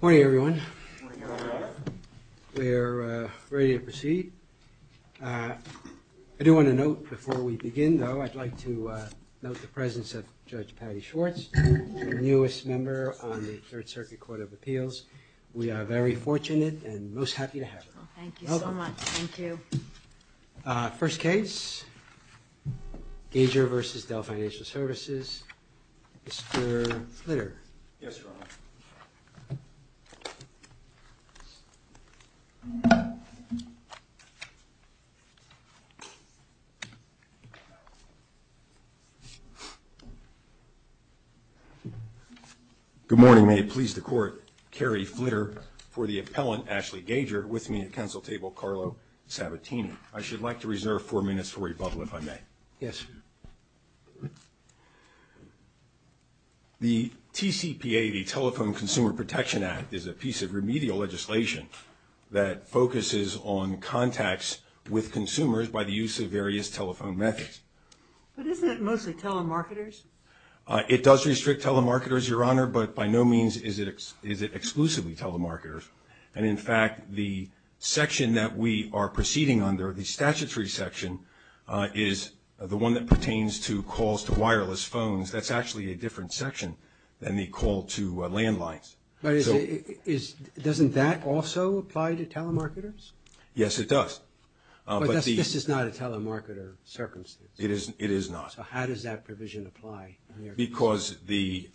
Good morning, everyone. We're ready to proceed. I do want to note before we begin, though, I'd like to note the presence of Judge Patty Schwartz, the newest member on the Third Circuit Court of Appeals.We are very fortunate and most happy to have her. Thank you so much. Thank you. First case, GagerversusDell Financial Services. Mr. Flitter.Yes, Your Honor. Good morning. May it please the Court, Kerry Flitter for the appellant, Ashley Gagervers, with me at counsel table, Carlo Sabatini. I should like to reserve four minutes for rebuttal if I may. Yes. The TCPA, the Telephone Consumer Protection Act, is a piece of remedial legislation that focuses on contacts with consumers by the use of various telephone methods. But isn't it mostly telemarketers? It does restrict telemarketers, Your Honor, but by no means is it exclusively telemarketers. And, in fact, the section that we are proceeding under, the statutory section, is the one that pertains to calls to wireless phones. That's actually a different section than the call to landlines. Doesn't that also apply to telemarketers? Yes, it does. But this is not a telemarketer circumstance. It is not. So how does that provision apply? Because the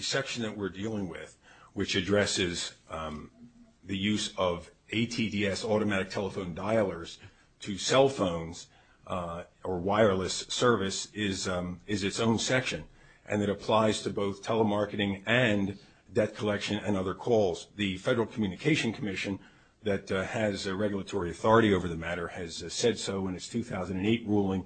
section that we're dealing with, which addresses the use of ATDS, automatic telephone dialers, to cell phones or wireless service is its own section, and it applies to both telemarketing and debt collection and other calls. The Federal Communication Commission that has regulatory authority over the matter has said so in its 2008 ruling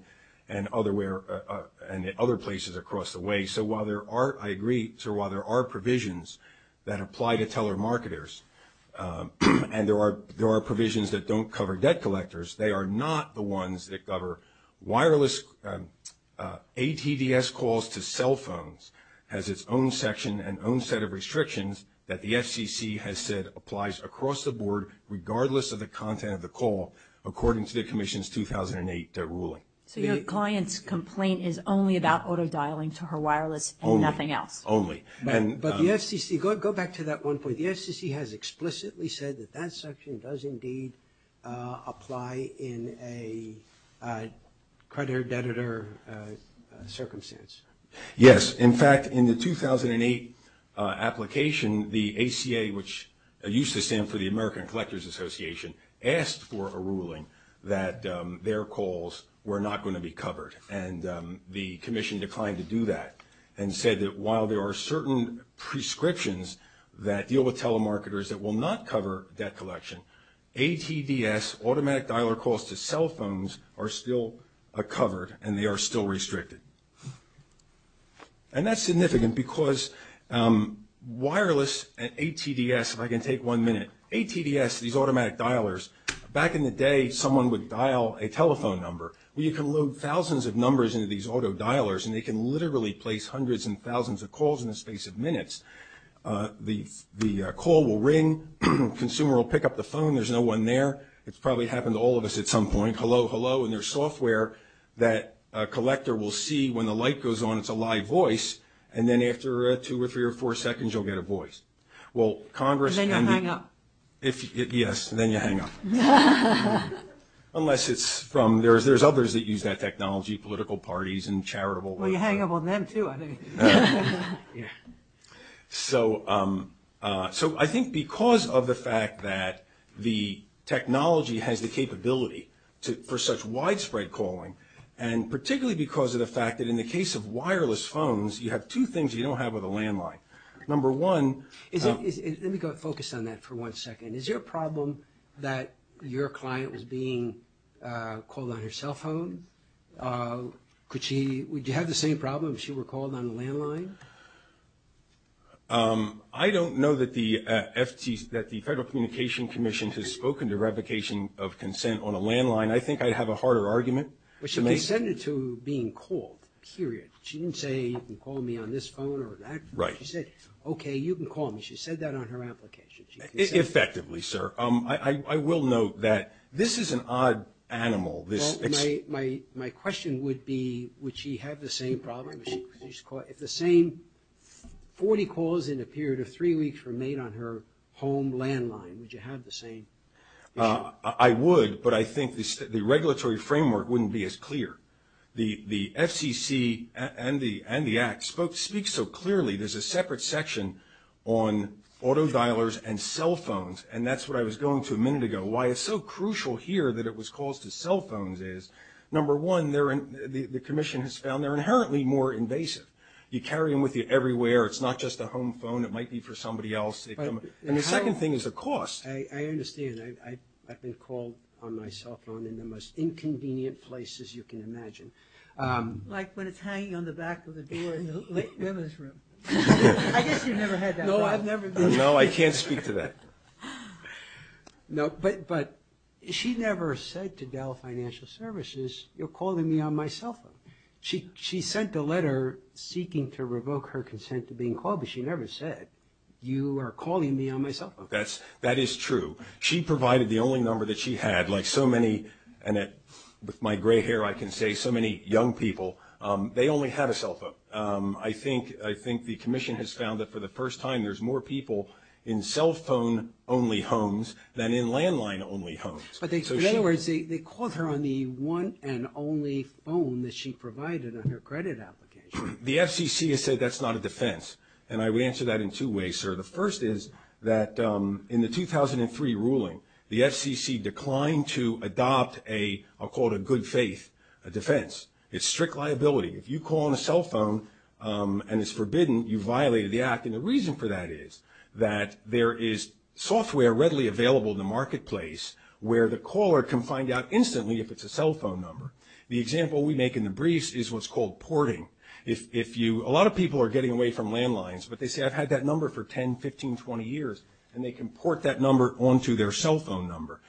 and in other places across the way. So while there are provisions that apply to telemarketers and there are provisions that don't cover debt collectors, they are not the ones that cover wireless. ATDS calls to cell phones has its own section and own set of restrictions that the FCC has said applies across the board, regardless of the content of the call, according to the Commission's 2008 ruling. So your client's complaint is only about auto-dialing to her wireless and nothing else? Only. But the FCC, go back to that one point, the FCC has explicitly said that that section does indeed apply in a creditor-debtor circumstance. Yes. In fact, in the 2008 application, the ACA, which used to stand for the American Collectors Association, asked for a ruling that their calls were not going to be covered, and the Commission declined to do that and said that while there are certain prescriptions that deal with telemarketers that will not cover debt collection, ATDS automatic dialer calls to cell phones are still covered and they are still restricted. And that's significant because wireless and ATDS, if I can take one minute, ATDS, these automatic dialers, back in the day someone would dial a telephone number. You can load thousands of numbers into these auto-dialers and they can literally place hundreds and thousands of calls in the space of minutes. The call will ring. The consumer will pick up the phone. There's no one there. It's probably happened to all of us at some point. Hello, hello. And there's software that a collector will see when the light goes on, it's a live voice, and then after two or three or four seconds you'll get a voice. And then you hang up. Yes. And then you hang up. Unless it's from, there's others that use that technology, political parties and charitable. Well, you hang up on them too, I think. Yes. So I think because of the fact that the technology has the capability for such widespread calling, and particularly because of the fact that in the case of wireless phones, you have two things you don't have with a landline. Number one. Let me focus on that for one second. Is there a problem that your client is being called on her cell phone? Would you have the same problem if she were called on a landline? I don't know that the Federal Communication Commission has spoken to revocation of consent on a landline. I think I'd have a harder argument. She resented to being called, period. She didn't say, you can call me on this phone or that. Right. She said, okay, you can call me. She said that on her application. Effectively, sir. I will note that this is an odd animal. My question would be, would she have the same problem? If the same 40 calls in a period of three weeks were made on her home landline, would you have the same problem? I would, but I think the regulatory framework wouldn't be as clear. The FCC and the Act speak so clearly. There's a separate section on auto dialers and cell phones, and that's what I was going through a minute ago. Why it's so crucial here that it was calls to cell phones is, number one, the Commission has found they're inherently more invasive. You carry them with you everywhere. It's not just a home phone. It might be for somebody else. And the second thing is the cost. I understand. I've been called on my cell phone in the most inconvenient places you can imagine. Like when it's hanging on the back of the door in the women's room. I guess you've never had that. No, I can't speak to that. No, but she never said to Dell Financial Services, you're calling me on my cell phone. She sent a letter seeking to revoke her consent to being called, but she never said, you are calling me on my cell phone. That is true. She provided the only number that she had. Like so many, and with my gray hair I can say so many young people, they only had a cell phone. I think the Commission has found that for the first time there's more people in cell phone-only homes than in landline-only homes. In other words, they called her on the one and only phone that she provided on her credit application. The FCC has said that's not a defense, and I would answer that in two ways, sir. The first is that in the 2003 ruling, the FCC declined to adopt a, I'll call it a good faith defense. It's strict liability. If you call on a cell phone and it's forbidden, you violated the act. And the reason for that is that there is software readily available in the marketplace where the caller can find out instantly if it's a cell phone number. The example we make in the briefs is what's called porting. A lot of people are getting away from landlines, but they say I've had that number for 10, 15, 20 years, and they can port that number onto their cell phone number.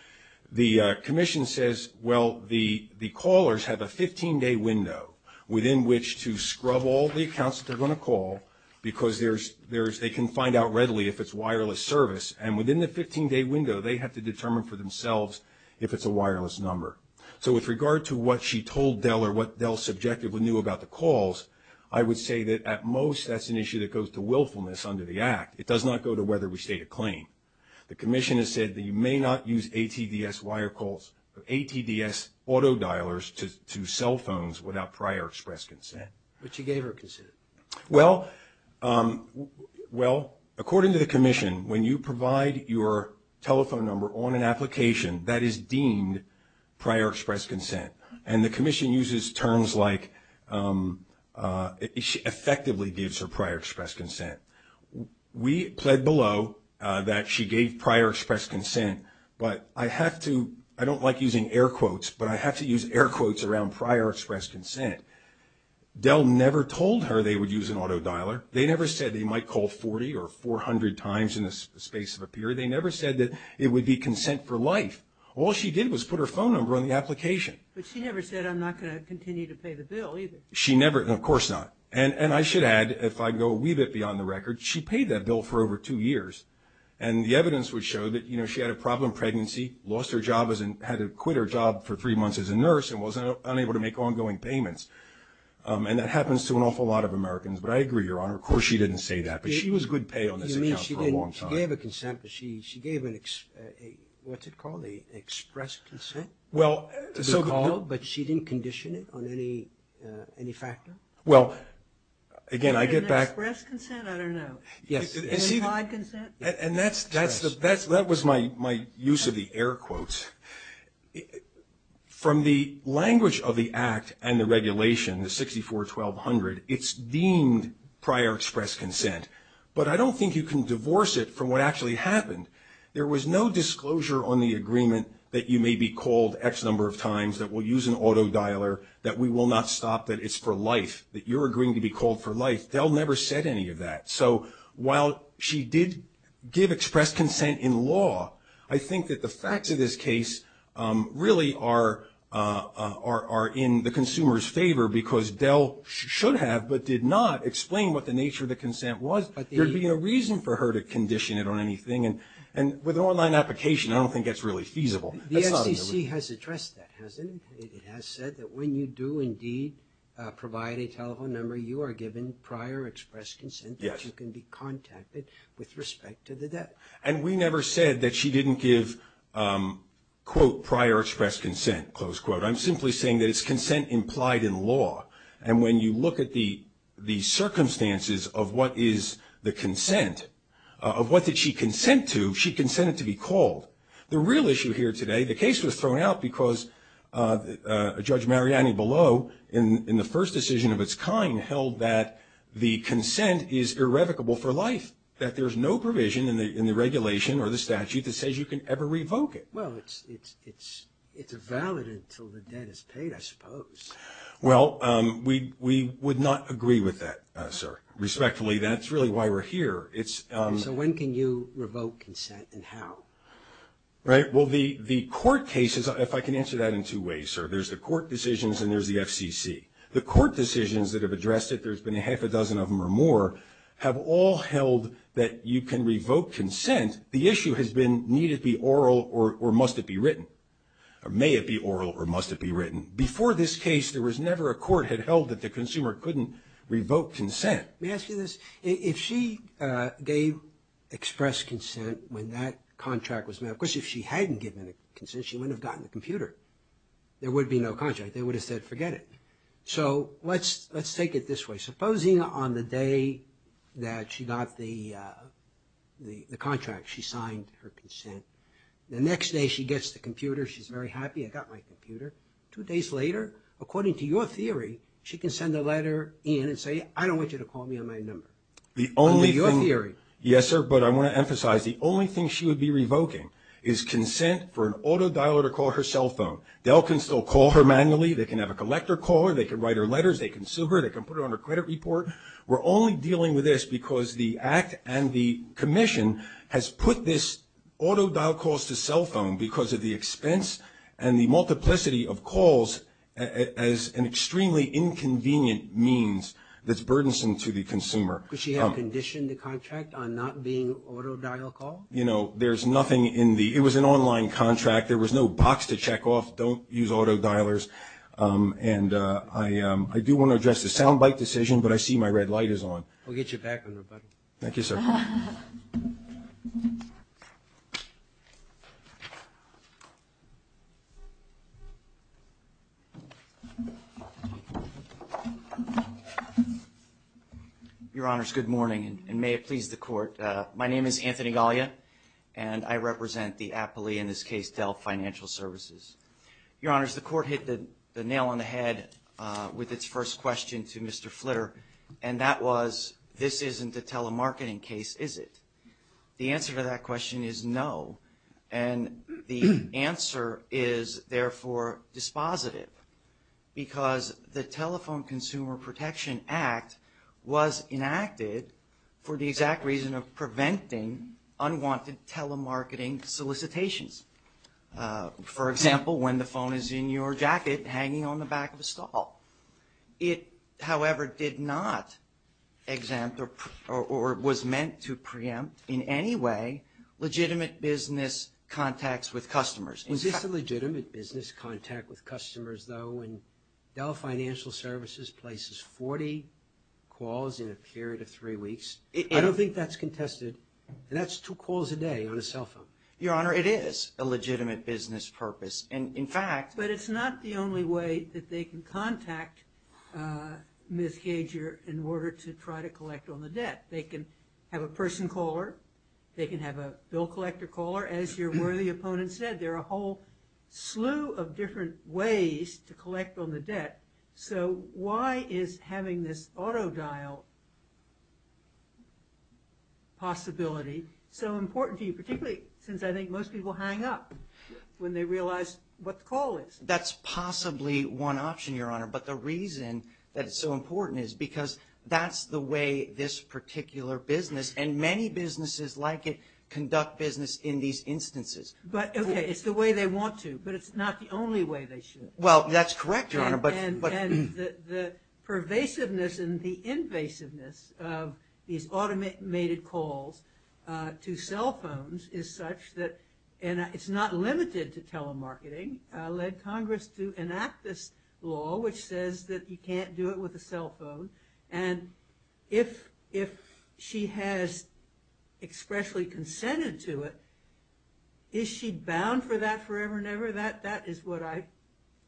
The Commission says, well, the callers have a 15-day window within which to scrub all the accounts that they're going to call, because they can find out readily if it's wireless service. And within the 15-day window, they have to determine for themselves if it's a wireless number. So with regard to what she told Dell or what Dell subjectively knew about the calls, I would say that at most that's an issue that goes to willfulness under the act. It does not go to whether we state a claim. The Commission has said that you may not use ATDS wire calls or ATDS auto dialers to cell phones without prior express consent. What she gave her consent? Well, according to the Commission, when you provide your telephone number on an application, that is deemed prior express consent. And the Commission uses terms like effectively gives her prior express consent. We pled below that she gave prior express consent. But I have to ‑‑ I don't like using air quotes, but I have to use air quotes around prior express consent. Dell never told her they would use an auto dialer. They never said they might call 40 or 400 times in the space of a period. They never said that it would be consent for life. All she did was put her phone number on the application. But she never said I'm not going to continue to pay the bill either. She never, and of course not. And I should add, if I go a wee bit beyond the record, she paid that bill for over two years. And the evidence would show that, you know, she had a problem pregnancy, lost her job as a ‑‑ had to quit her job for three months as a nurse and was unable to make ongoing payments. And that happens to an awful lot of Americans. But I agree, Your Honor, of course she didn't say that. But she was good pay on this account for a long time. You mean she didn't ‑‑ she gave a consent, but she gave an ‑‑ what's it called? An express consent? Well, so ‑‑ But she didn't condition it on any factor? Well, again, I get that. An express consent? I don't know. An implied consent? And that was my use of the air quotes. From the language of the Act and the regulation, the 641200, it's deemed prior express consent. But I don't think you can divorce it from what actually happened. There was no disclosure on the agreement that you may be called X number of times, that we'll use an auto dialer, that we will not stop, that it's for life, that you're agreeing to be called for life. Del never said any of that. So while she did give express consent in law, I think that the facts of this case really are in the consumer's favor because Del should have but did not explain what the nature of the consent was. There'd be no reason for her to condition it on anything. And with an online application, I don't think that's really feasible. The SEC has addressed that, hasn't it? It has said that when you do indeed provide a telephone number, you are given prior express consent. Yes. You can be contacted with respect to the debt. And we never said that she didn't give, quote, prior express consent, close quote. I'm simply saying that it's consent implied in law. And when you look at the circumstances of what is the consent, of what did she consent to, she consented to be called. The real issue here today, the case was thrown out because Judge Mariani below, in the first decision of its kind, held that the consent is irrevocable for life, that there's no provision in the regulation or the statute that says you can ever revoke it. Well, it's a valid until the debt is paid, I suppose. Well, we would not agree with that, sir. Respectfully, that's really why we're here. So when can you revoke consent and how? Right. Well, the court cases, if I can answer that in two ways, sir, there's the court decisions and there's the FCC. The court decisions that have addressed it, there's been a half a dozen of them or more, have all held that you can revoke consent. The issue has been, need it be oral or must it be written? May it be oral or must it be written? Before this case, there was never a court had held that the consumer couldn't revoke consent. May I ask you this? If she gave express consent when that contract was made, of course, if she hadn't given consent, she wouldn't have gotten the computer. There would be no contract. They would have said forget it. So let's take it this way. Supposing on the day that she got the contract, she signed her consent. The next day she gets the computer, she's very happy, I got my computer. Two days later, according to your theory, she can send a letter in and say I don't want you to call me on my number. That would be your theory. Yes, sir, but I want to emphasize the only thing she would be revoking is consent for an auto dialer to call her cell phone. They all can still call her manually. They can have a collector call her. They can write her letters. They can sue her. They can put her on a credit report. We're only dealing with this because the act and the commission has put this auto dial calls to cell phone because of the expense and the multiplicity of calls as an extremely inconvenient means that's burdensome to the consumer. Does she have a condition in the contract on not being auto dial called? You know, there's nothing in the ‑‑ it was an online contract. There was no box to check off, don't use auto dialers. And I do want to address the sound bite decision, but I see my red light is on. We'll get you back with a rebuttal. Thank you, sir. Your Honors, good morning, and may it please the court. My name is Anthony Gaglia, and I represent the appellee, in this case, Dell Financial Services. Your Honors, the court hit the nail on the head with its first question to Mr. Flitter, and that was, this isn't a telemarketing case, is it? The answer to that question is no, and the answer is, therefore, dispositive, because the Telephone Consumer Protection Act was enacted for the exact reason of preventing unwanted telemarketing solicitations. For example, when the phone is in your jacket hanging on the back of a stall. It, however, did not exempt or was meant to preempt in any way legitimate business contacts with customers. Is this a legitimate business contact with customers, though, when Dell Financial Services places 40 calls in a period of three weeks? I don't think that's contested. That's two calls a day on a cell phone. Your Honor, it is a legitimate business purpose. In fact – But it's not the only way that they can contact Ms. Kager in order to try to collect on the debt. They can have a person call her. They can have a bill collector call her. As your worthy opponent said, there are a whole slew of different ways to collect on the debt. So why is having this auto-dial possibility so important to you, particularly since I think most people hang up when they realize what the call is? That's possibly one option, Your Honor, but the reason that it's so important is because that's the way this particular business, and many businesses like it, conduct business in these instances. But, okay, it's the way they want to, but it's not the only way they should. Well, that's correct, Your Honor, but – And the pervasiveness and the invasiveness of these automated calls to cell phones is such that – and it's not limited to telemarketing – led Congress to enact this law, which says that you can't do it with a cell phone. And if she has expressly consented to it, is she bound for that forever and ever? That is what I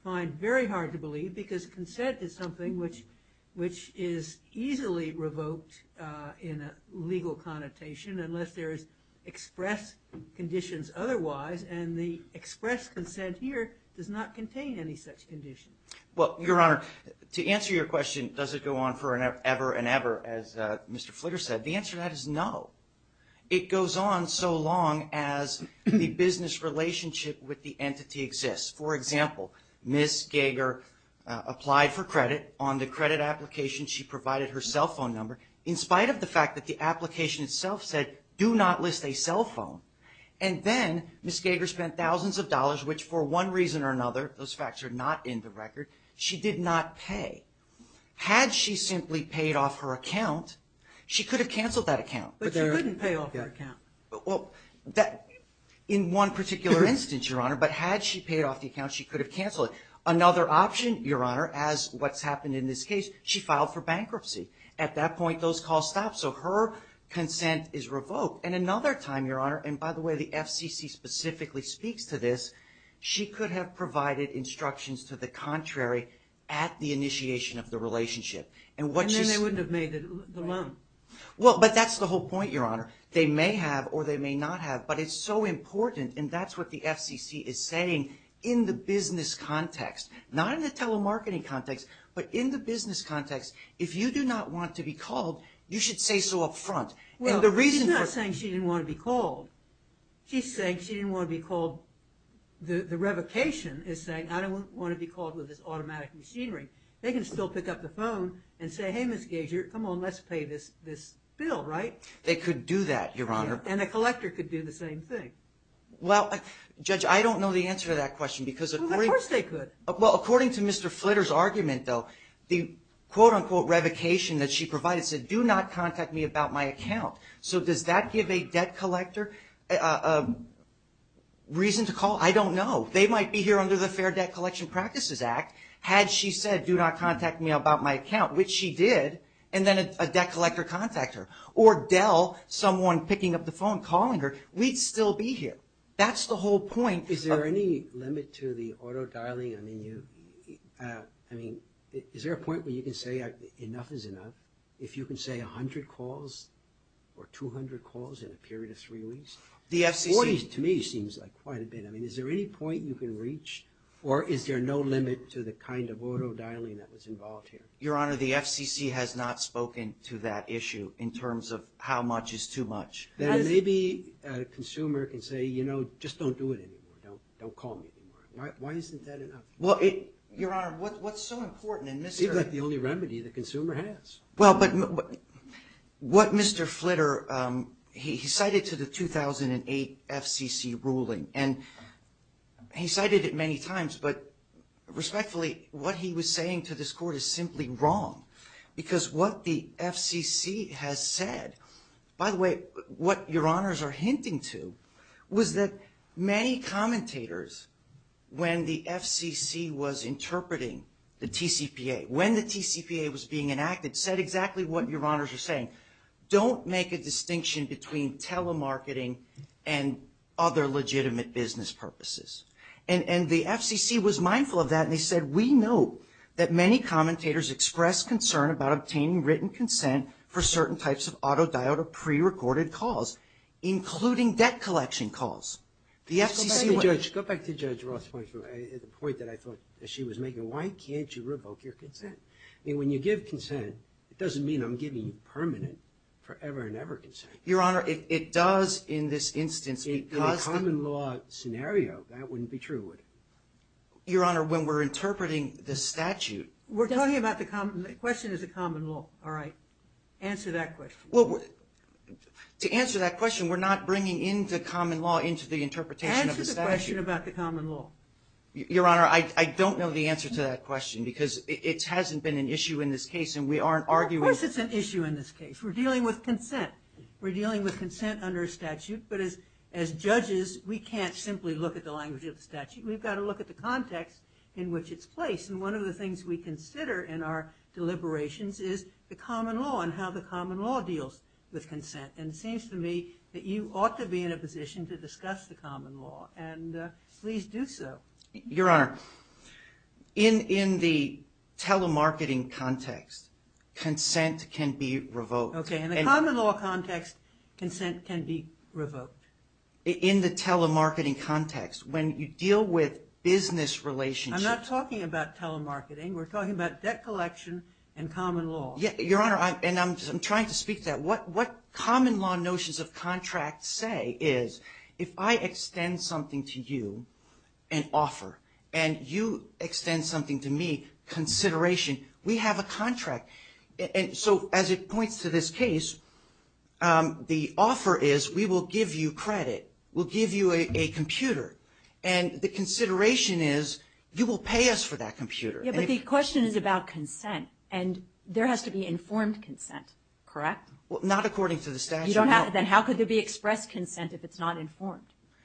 find very hard to believe because consent is something which is easily revoked in a legal connotation unless there is express conditions otherwise, and the express consent here does not contain any such conditions. Well, Your Honor, to answer your question, does it go on forever and ever, as Mr. Flitter said, the answer to that is no. It goes on so long as the business relationship with the entity exists. For example, Ms. Gager applied for credit on the credit application. She provided her cell phone number in spite of the fact that the application itself said, do not list a cell phone. And then Ms. Gager spent thousands of dollars, which for one reason or another – those facts are not in the record – she did not pay. Had she simply paid off her account, she could have canceled that account, but she couldn't pay off that account. In one particular instance, Your Honor, but had she paid off the account, she could have canceled it. Another option, Your Honor, as what's happened in this case, she filed for bankruptcy. At that point, those calls stopped, so her consent is revoked. And another time, Your Honor – and by the way, the FCC specifically speaks to this – she could have provided instructions to the contrary at the initiation of the relationship. And then they wouldn't have made the loan. Well, but that's the whole point, Your Honor. They may have or they may not have, but it's so important, and that's what the FCC is saying in the business context. Not in the telemarketing context, but in the business context. If you do not want to be called, you should say so up front. Well, she's not saying she didn't want to be called. She's saying she didn't want to be called. The revocation is saying, I don't want to be called with this automatic machinery. They can still pick up the phone and say, hey, Ms. Gager, come on, let's pay this bill, right? They could do that, Your Honor. And the collector could do the same thing. Well, Judge, I don't know the answer to that question because – Well, of course they could. Well, according to Mr. Flitter's argument, though, the quote-unquote revocation that she provided said, do not contact me about my account. So does that give a debt collector a reason to call? I don't know. They might be here under the Fair Debt Collection Practices Act. Had she said, do not contact me about my account, which she did, and then a debt collector contacts her, or Dell, someone picking up the phone, calling her, we'd still be here. That's the whole point. Is there any limit to the auto-dialing? I mean, is there a point where you can say enough is enough? If you can say 100 calls or 200 calls in a period of three weeks, 40 to me seems like quite a bit. I mean, is there any point you can reach, or is there no limit to the kind of auto-dialing that was involved here? Your Honor, the FCC has not spoken to that issue in terms of how much is too much. Then maybe a consumer can say, you know, just don't do it anymore. Don't call me anymore. Why isn't that enough? Well, Your Honor, what's so important in this area? It's not the only remedy the consumer has. Well, but what Mr. Flitter, he cited to the 2008 FCC ruling, and he cited it many times, but respectfully, what he was saying to this Court is simply wrong, because what the FCC has said, by the way, what Your Honors are hinting to was that many commentators, when the FCC was interpreting the TCPA, when the TCPA was being enacted, said exactly what Your Honors are saying. Don't make a distinction between telemarketing and other legitimate business purposes. And the FCC was mindful of that, and they said, we know that many commentators expressed concern about obtaining written consent for certain types of auto-dialed or pre-recorded calls, including debt collection calls. Go back to Judge Ross' point that I thought that she was making. Why can't you revoke your consent? I mean, when you give consent, it doesn't mean I'm giving permanent forever and ever consent. Your Honor, it does in this instance. In a common law scenario, that wouldn't be true, would it? Your Honor, when we're interpreting the statute. We're talking about the common law. The question is the common law. All right. Answer that question. Well, to answer that question, we're not bringing into common law into the interpretation of the statute. Answer the question about the common law. Your Honor, I don't know the answer to that question, because it hasn't been an issue in this case, and we aren't arguing. Of course it's an issue in this case. We're dealing with consent. We're dealing with consent under a statute, but as judges, we can't simply look at the language of the statute. We've got to look at the context in which it's placed. And one of the things we consider in our deliberations is the common law and how the common law deals with consent. And it seems to me that you ought to be in a position to discuss the common law, and please do so. Your Honor, in the telemarketing context, consent can be revoked. Okay. In the common law context, consent can be revoked. In the telemarketing context, when you deal with business relationships. I'm not talking about telemarketing. We're talking about debt collection and common law. Your Honor, and I'm trying to speak to that. What common law notions of contract say is if I extend something to you, an offer, and you extend something to me, consideration, we have a contract. So as it points to this case, the offer is we will give you credit. We'll give you a computer, and the consideration is you will pay us for that computer. Yeah, but the question is about consent, and there has to be informed consent, correct? Well, not according to the statute. Then how could there be express consent if it's not informed?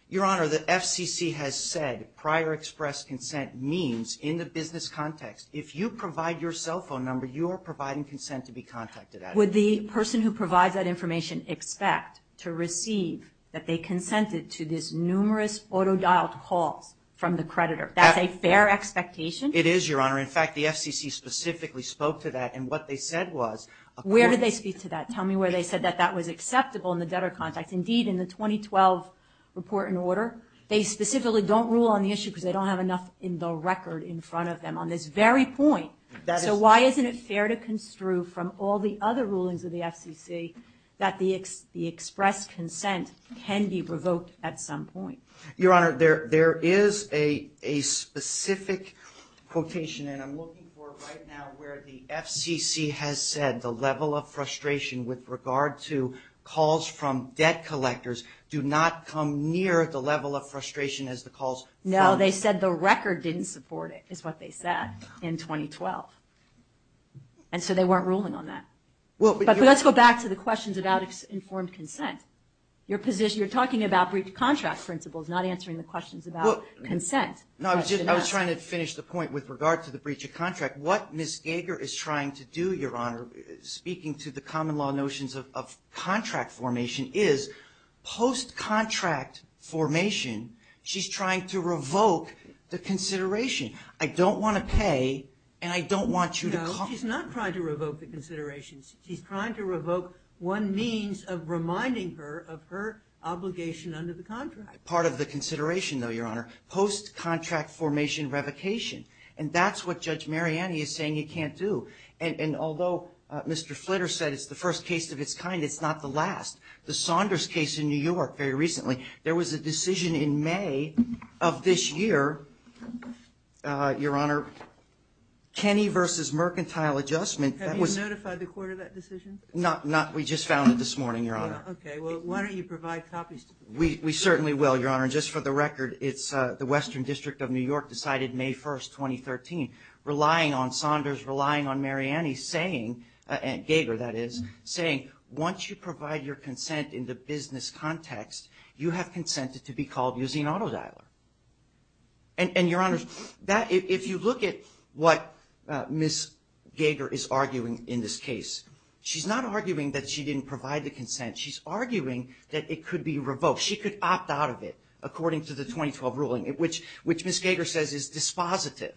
Your Honor, the FCC has said prior express consent means in the business context, if you provide your cell phone number, you are providing consent to be contacted. Would the person who provides that information expect to receive that they consented to this numerous auto-dialed call from the creditor? That's a fair expectation? It is, Your Honor. In fact, the FCC specifically spoke to that, and what they said was. Where did they speak to that? Tell me where they said that that was acceptable in the debtor context. Indeed, in the 2012 report and order, they specifically don't rule on the issue because they don't have enough in the record in front of them. On this very point, so why isn't it fair to construe from all the other rulings of the FCC that the express consent can be provoked at some point? Your Honor, there is a specific quotation, and I'm looking for it right now, where the FCC has said the level of frustration with regard to calls from debt collectors do not come near the level of frustration as the calls. No, they said the record didn't support it is what they said in 2012, and so they weren't ruling on that. But let's go back to the questions about informed consent. You're talking about breach of contract principles, not answering the questions about consent. No, I was trying to finish the point with regard to the breach of contract. What Ms. Gager is trying to do, Your Honor, speaking to the common law notions of contract formation, is post-contract formation, she's trying to revoke the consideration. I don't want to pay, and I don't want you to – No, she's not trying to revoke the consideration. She's trying to revoke one means of reminding her of her obligation under the contract. Part of the consideration, though, Your Honor, post-contract formation revocation. And that's what Judge Mariani is saying you can't do. And although Mr. Flitter said it's the first case of its kind, it's not the last. The Saunders case in New York very recently, there was a decision in May of this year, Your Honor, Kenny versus mercantile adjustment. Have you notified the court of that decision? Not – we just found it this morning, Your Honor. Okay, well, why don't you provide copies? We certainly will, Your Honor. Just for the record, it's the Western District of New York decided May 1, 2013, relying on Saunders, relying on Mariani, saying – Gager, that is – saying once you provide your consent in the business context, you have consented to be called using auto dialer. And, Your Honor, if you look at what Ms. Gager is arguing in this case, she's not arguing that she didn't provide the consent. She's arguing that it could be revoked. She could opt out of it according to the 2012 ruling, which Ms. Gager says is dispositive.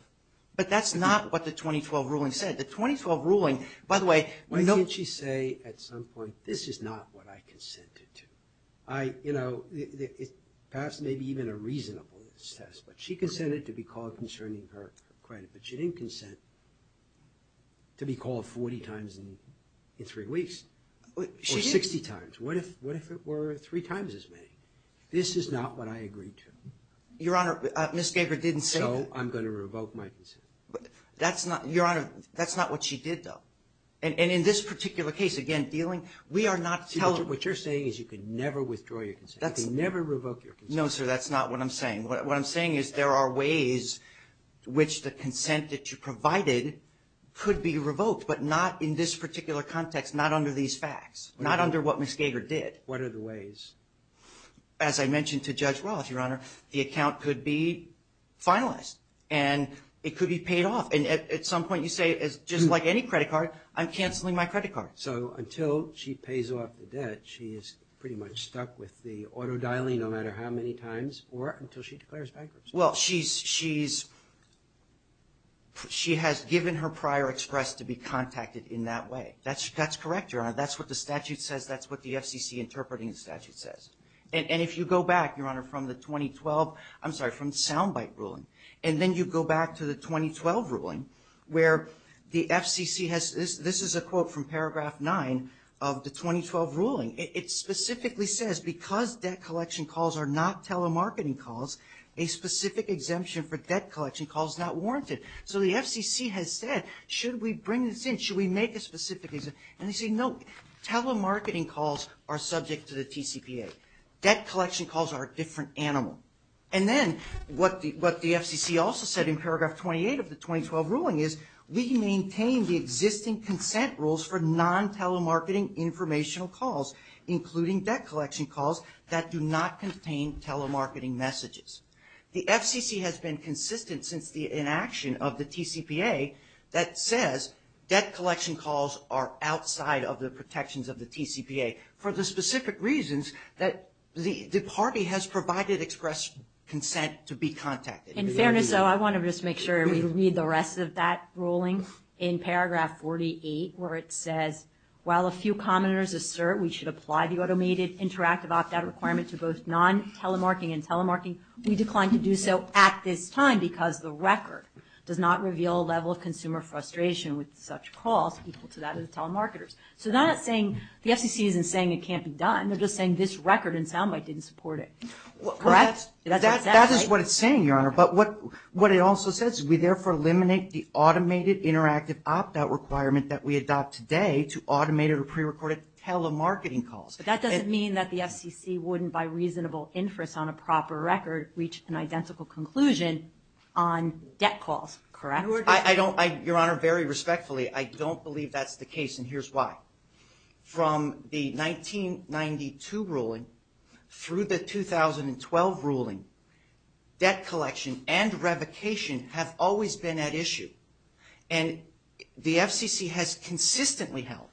But that's not what the 2012 ruling said. The 2012 ruling – by the way – Well, didn't she say at some point, this is not what I consented to? I – you know, it passed maybe even a reasonableness test. But she consented to be called concerning her credit. But she didn't consent to be called 40 times in three weeks. She did. Or 60 times. What if it were three times as many? This is not what I agreed to. Your Honor, Ms. Gager didn't say that. So I'm going to revoke my consent. That's not – Your Honor, that's not what she did, though. And in this particular case, again, dealing – we are not telling – What you're saying is you can never withdraw your consent. You can never revoke your consent. No, sir, that's not what I'm saying. What I'm saying is there are ways which the consent that you provided could be revoked, but not in this particular context, not under these facts, not under what Ms. Gager did. What are the ways? As I mentioned to Judge Wallace, Your Honor, the account could be finalized. And it could be paid off. And at some point you say, just like any credit card, I'm canceling my credit card. So until she pays off the debt, she is pretty much stuck with the auto-dialing no matter how many times or until she declares bankruptcy. Well, she's – she has given her prior express to be contacted in that way. That's correct, Your Honor. That's what the statute says. That's what the FCC interpreting statute says. And if you go back, Your Honor, from the 2012 – I'm sorry, from the sound bite ruling, and then you go back to the 2012 ruling where the FCC has – this is a quote from paragraph 9 of the 2012 ruling. It specifically says, because debt collection calls are not telemarketing calls, a specific exemption for debt collection calls not warranted. So the FCC has said, should we bring this in? Should we make a specific exemption? And they say, no, telemarketing calls are subject to the TCPA. Debt collection calls are a different animal. And then what the FCC also said in paragraph 28 of the 2012 ruling is, we can maintain the existing consent rules for non-telemarketing informational calls, including debt collection calls that do not contain telemarketing messages. The FCC has been consistent since the inaction of the TCPA that says debt collection calls are outside of the protections of the TCPA for the specific reasons that the party has provided express consent to be contacted. In fairness, though, I want to just make sure we read the rest of that ruling in paragraph 48, where it says, while a few commoners assert we should apply the automated interactive opt-out requirement to both non-telemarketing and telemarketing, we decline to do so at this time because the record does not reveal a level of consumer frustration with such calls equal to that of telemarketers. So that thing, the FCC isn't saying it can't be done. They're just saying this record in soundbite didn't support it. Correct? That is what it's saying, Your Honor. But what it also says, we therefore eliminate the automated interactive opt-out requirement that we adopt today to automated or prerecorded telemarketing calls. But that doesn't mean that the FCC wouldn't, by reasonable inference on a proper record, reach an identical conclusion on debt calls. Correct? I don't, Your Honor, very respectfully, I don't believe that's the case. And here's why. From the 1992 ruling through the 2012 ruling, debt collection and revocation have always been at issue. And the FCC has consistently held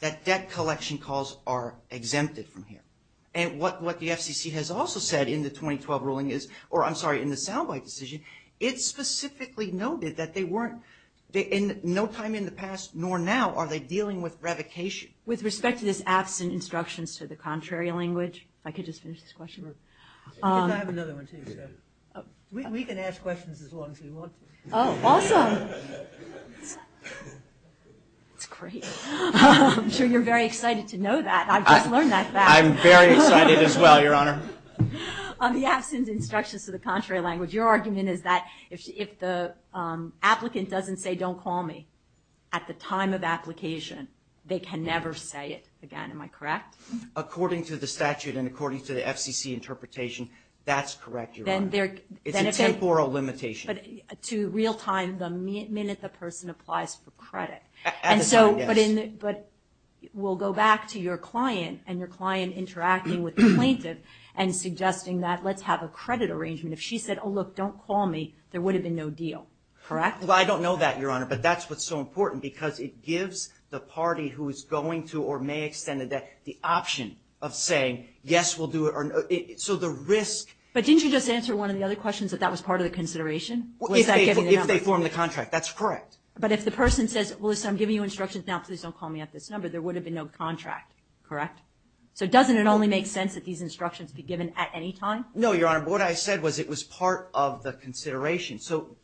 that debt collection calls are exempted from here. And what the FCC has also said in the 2012 ruling is, or I'm sorry, in the soundbite decision, it specifically noted that they weren't, in no time in the past nor now are they dealing with revocation. With respect to this absent instructions to the contrary language, if I could just finish this question. I have another one too. We can ask questions as long as you want. Oh, awesome. Great. I'm sure you're very excited to know that. I've just learned that fact. I'm very excited as well, Your Honor. On the absent instructions to the contrary language, your argument is that if the applicant doesn't say don't call me at the time of application, they can never say it again, am I correct? According to the statute and according to the FCC interpretation, that's correct, Your Honor. It's a temporal limitation. But to real time, the minute the person applies for credit. But we'll go back to your client and your client interacting with the plaintiff and suggesting that let's have a credit arrangement. If she said, oh, look, don't call me, there would have been no deal, correct? Well, I don't know that, Your Honor, but that's what's so important because it gives the party who's going to or may extend the debt the option of saying, yes, we'll do it. So the risk. But didn't you just answer one of the other questions that that was part of the consideration? If they form the contract, that's correct. But if the person says, listen, I'm giving you instructions now, please don't call me at this number, there would have been no contract, correct? So doesn't it only make sense that these instructions be given at any time? No, Your Honor, but what I said was it was part of the consideration. So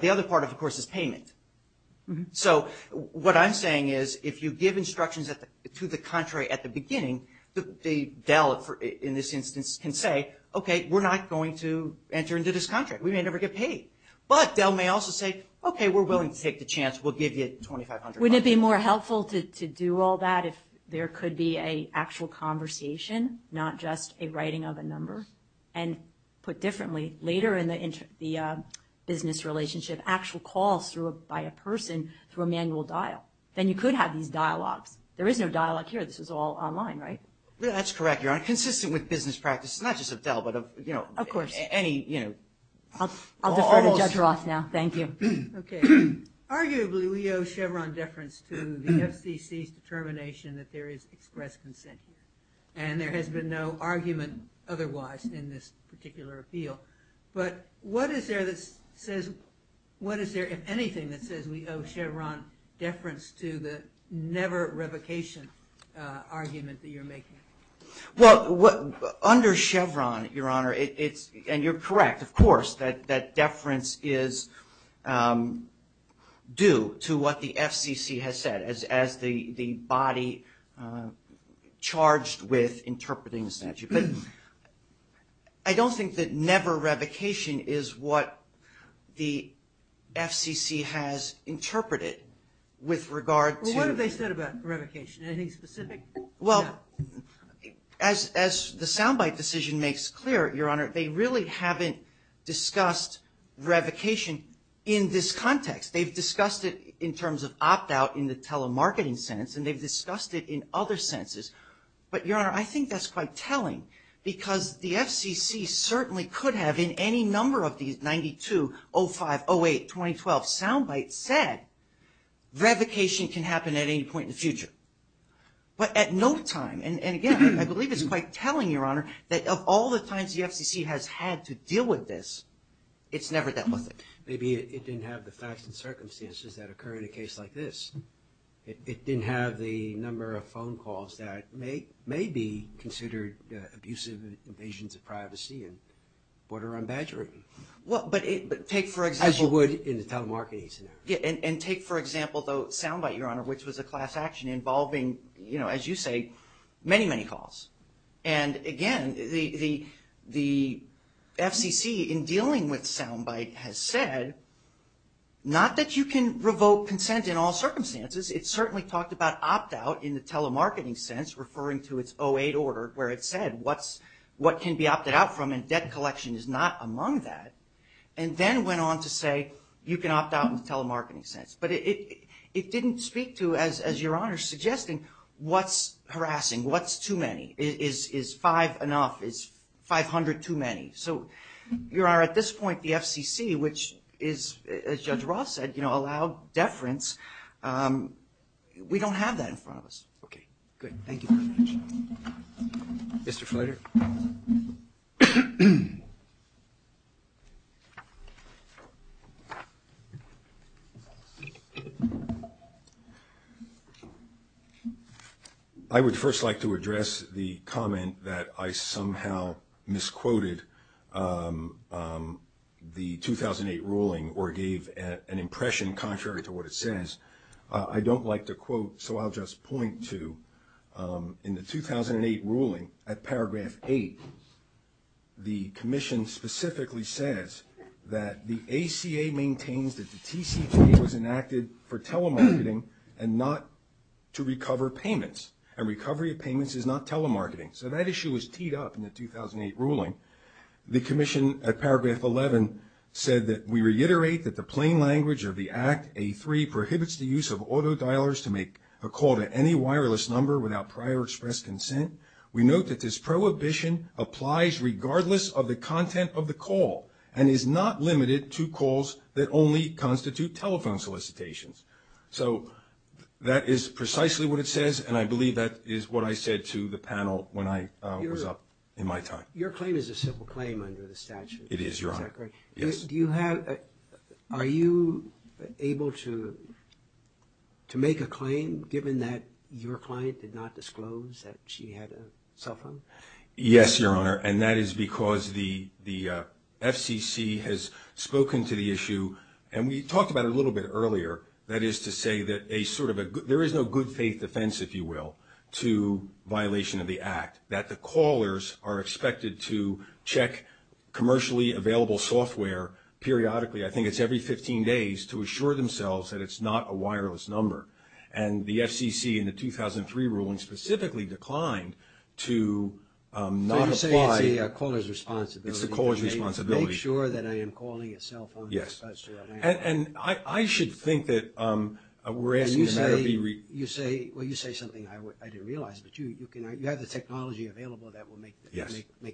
the other part, of course, is payment. So what I'm saying is if you give instructions to the contrary at the beginning, the bailiff in this instance can say, okay, we're not going to enter into this contract. We may never get paid. But they may also say, okay, we're willing to take the chance. We'll give you $2,500. Wouldn't it be more helpful to do all that if there could be an actual conversation, not just a writing of a number? And put differently, later in the business relationship, actual calls by a person through a manual dial. Then you could have these dialogues. There is no dialogue here. This is all online, right? That's correct, Your Honor. Consistent with business practice, not just of Dell, but of, you know, any, you know, call. I'll defer to Judge Roth now. Thank you. Okay. Arguably, we owe Chevron deference to the FCC's determination that there is express consent. And there has been no argument otherwise in this particular appeal. But what is there that says, what is there, if anything, that says we owe Chevron deference to the never revocation argument that you're making? Well, under Chevron, Your Honor, and you're correct, of course, that deference is due to what the FCC has said as the body charged with interpreting this statute. But I don't think that never revocation is what the FCC has interpreted with regard to – Well, what have they said about revocation? Anything specific? Well, as the Soundbite decision makes clear, Your Honor, they really haven't discussed revocation in this context. They've discussed it in terms of opt-out in the telemarketing sense, and they've discussed it in other senses. But, Your Honor, I think that's quite telling, because the FCC certainly could have in any number of these 92, 05, 08, 2012 Soundbites said revocation can happen at any point in the future. But at no time, and again, I believe it's quite telling, Your Honor, that of all the times the FCC has had to deal with this, it's never dealt with it. Maybe it didn't have the facts and circumstances that occur in a case like this. It didn't have the number of phone calls that may be considered abusive invasions of privacy and border on badgering. Well, but take, for example – As you would in the telemarketing sense. And take, for example, the Soundbite, Your Honor, which was a class action involving, as you say, many, many calls. And again, the FCC in dealing with Soundbite has said not that you can revoke consent in all circumstances. It certainly talked about opt-out in the telemarketing sense, referring to its 08 order, where it said what can be opted out from and debt collection is not among that, and then went on to say you can opt out in the telemarketing sense. But it didn't speak to, as Your Honor is suggesting, what's harassing, what's too many. Is five enough? Is 500 too many? So, Your Honor, at this point, the FCC, which is, as Judge Roth said, allowed deference, we don't have that in front of us. Okay, good. Thank you. Mr. Fletcher? I would first like to address the comment that I somehow misquoted the 2008 ruling or gave an impression contrary to what it says. I don't like to quote, so I'll just point to in the 2008 ruling at paragraph 8, the commission specifically says that the ACA maintains that the TCT was enacted for telemarketing and not to recover payments, and recovery of payments is not telemarketing. So that issue was teed up in the 2008 ruling. The commission at paragraph 11 said that we reiterate that the plain language of the Act, A3, prohibits the use of autodialers to make a call to any wireless number without prior express consent. We note that this prohibition applies regardless of the content of the call and is not limited to calls that only constitute telephone solicitations. So that is precisely what it says, and I believe that is what I said to the panel when I was up in my time. Your claim is a civil claim under the statute. It is, Your Honor. Are you able to make a claim, given that your client did not disclose that she had a cell phone? Yes, Your Honor, and that is because the FCC has spoken to the issue, and we talked about it a little bit earlier, that is to say that there is no good faith defense, if you will, to violation of the Act, that the callers are expected to check commercially available software periodically, I think it's every 15 days, to assure themselves that it's not a wireless number. And the FCC in the 2003 ruling specifically declined to not apply the caller's responsibility. It's the caller's responsibility. Make sure that I am calling a cell phone. Yes. And I should think that we're asking the matter to be reversed. Well, you say something I didn't realize, but you have the technology available that will make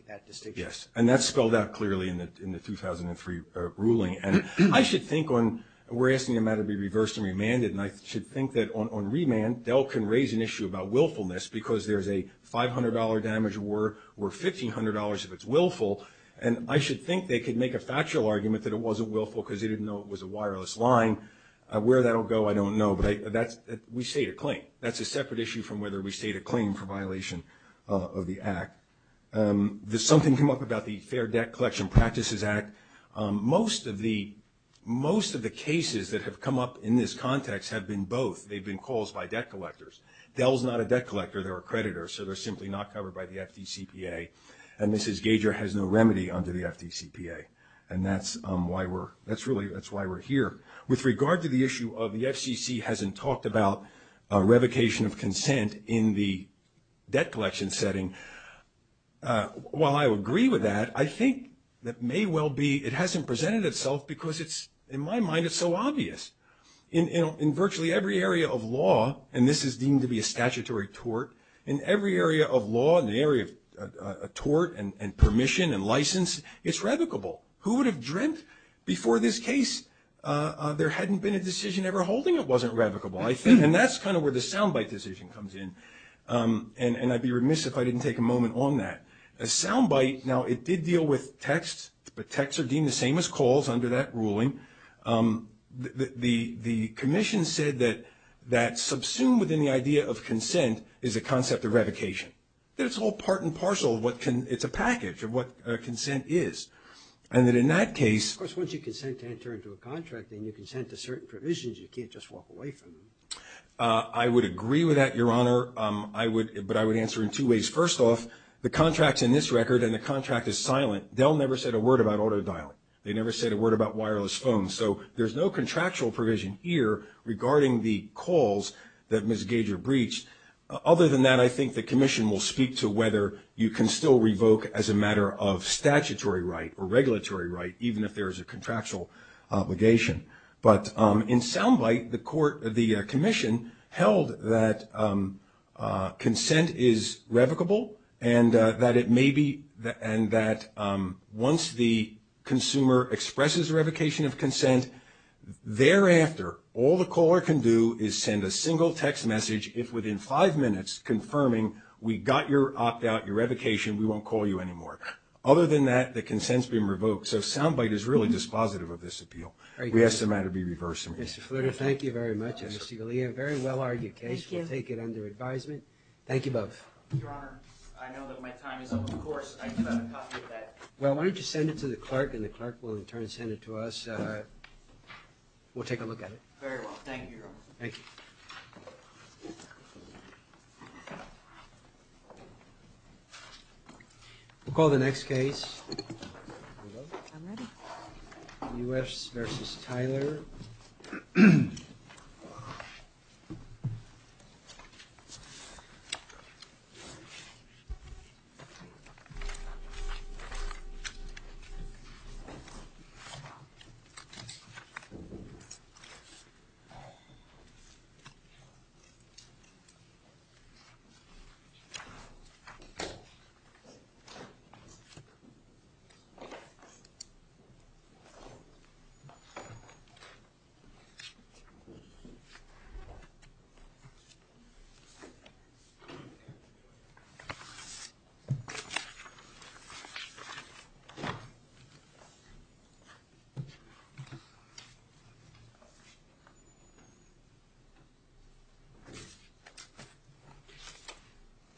that distinction. Yes, and that spelled out clearly in the 2003 ruling. And I should think we're asking the matter to be reversed and remanded, and I should think that on remand Dell can raise an issue about willfulness because there's a $500 damage or $1,500 if it's willful, and I should think they could make a factual argument that it wasn't willful because they didn't know it was a wireless line. Where that will go, I don't know. But we state a claim. That's a separate issue from whether we state a claim for violation of the Act. Something came up about the Fair Debt Collection Practices Act. Most of the cases that have come up in this context have been both. They've been calls by debt collectors. Dell is not a debt collector. They're a creditor, so they're simply not covered by the FDCPA. And Mrs. Gager has no remedy under the FDCPA, and that's why we're here. With regard to the issue of the FCC hasn't talked about revocation of consent in the debt collection setting, while I would agree with that, I think that may well be it hasn't presented itself because it's, in my mind, it's so obvious. In virtually every area of law, and this is deemed to be a statutory tort, in every area of law and the area of tort and permission and license, it's revocable. Who would have dreamt before this case there hadn't been a decision ever holding it wasn't revocable? And that's kind of where the soundbite decision comes in, and I'd be remiss if I didn't take a moment on that. Soundbite, now it did deal with texts, but texts are deemed the same as calls under that ruling. The commission said that subsumed within the idea of consent is a concept of revocation. That's all part and parcel of what can – it's a package of what consent is. And that in that case – Of course, once you consent to enter into a contract and you consent to certain provisions, you can't just walk away from them. I would agree with that, Your Honor, but I would answer in two ways. First off, the contract's in this record and the contract is silent. Dell never said a word about autodial. They never said a word about wireless phones. So there's no contractual provision here regarding the calls that Ms. Gager breached. Other than that, I think the commission will speak to whether you can still revoke as a matter of statutory right or regulatory right, even if there is a contractual obligation. But in Soundbite, the commission held that consent is revocable and that it may be – and that once the consumer expresses a revocation of consent, thereafter, all the caller can do is send a single text message if within five minutes confirming we got your opt-out, your revocation, we won't call you anymore. Other than that, the consent's being revoked. So Soundbite is really dispositive of this appeal. We estimate it to be reversible. Mr. Flutter, thank you very much. Mr. Galea, a very well-argued case. Thank you. We'll take it under advisement. Thank you both. Your Honor, I know that my time is up. Of course. Well, why don't you send it to the clerk and the clerk will in turn send it to us. We'll take a look at it. Very well. Thank you, Your Honor. Thank you. We'll call the next case. I'm ready. U.S. v. Tyler.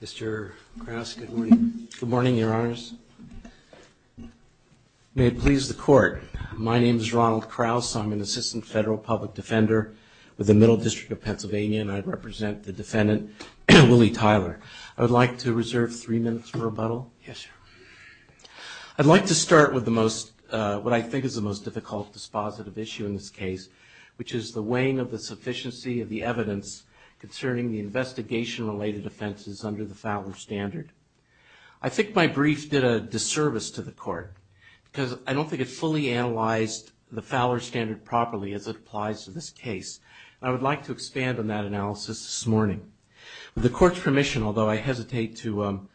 Mr. Krause, good morning. Good morning, Your Honors. May it please the Court, my name is Ronald Krause. I'm an assistant federal public defender with the Middle District of Pennsylvania and I represent the defendant, Willie Tyler. I would like to reserve three minutes for rebuttal. Yes, Your Honor. I'd like to start with the most, what I think is the most difficult dispositive issue in this case, which is the weighing of the sufficiency of the evidence concerning the investigation-related offenses under the Fowler Standard. I think my brief did a disservice to the Court because I don't think it fully analyzed the Fowler Standard properly as it applies to this case. I would like to expand on that analysis this morning. With the Court's permission, although I hesitate to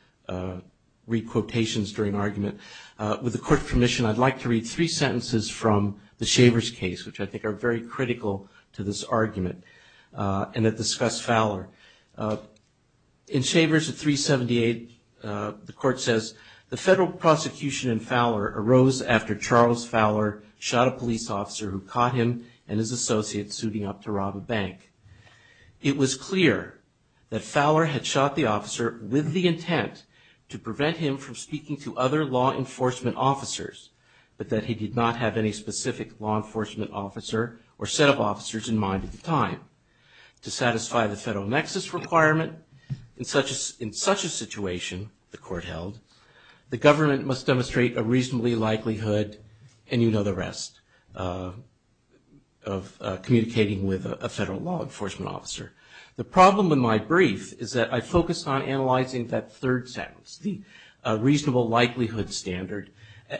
read quotations during argument, with the Court's permission, I'd like to read three sentences from the Shavers case, which I think are very critical to this argument and that discuss Fowler. In Shavers at 378, the Court says, The federal prosecution in Fowler arose after Charles Fowler shot a police officer who caught him and his associates suiting up to rob a bank. It was clear that Fowler had shot the officer with the intent to prevent him from speaking to other law enforcement officers, but that he did not have any specific law enforcement officer or set of officers in mind at the time. To satisfy the federal nexus requirement in such a situation, the Court held, the government must demonstrate a reasonably likelihood, and you know the rest, of communicating with a federal law enforcement officer. The problem in my brief is that I focused on analyzing that third sentence, the reasonable likelihood standard,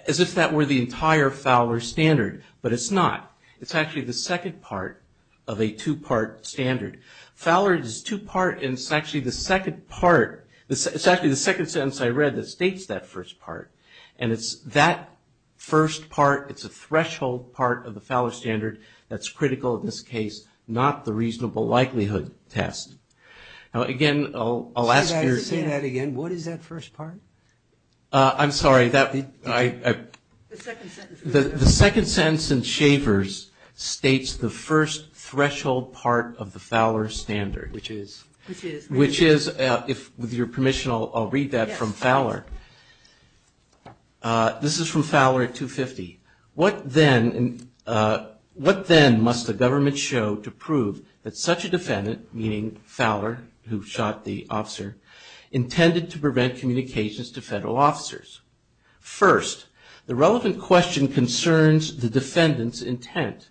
as if that were the entire Fowler standard, but it's not. It's actually the second part of a two-part standard. Fowler is two-part and it's actually the second part, it's actually the second sentence I read that states that first part. And it's that first part, it's a threshold part of the Fowler standard that's critical in this case, not the reasonable likelihood test. Now, again, I'll ask you... Say that again, what is that first part? I'm sorry, the second sentence in Shavers states the first threshold part of the Fowler standard, which is, with your permission, I'll read that from Fowler. This is from Fowler 250. What then must the government show to prove that such a defendant, meaning Fowler, who shot the officer, intended to prevent communications to federal officers? First, the relevant question concerns the defendant's intent.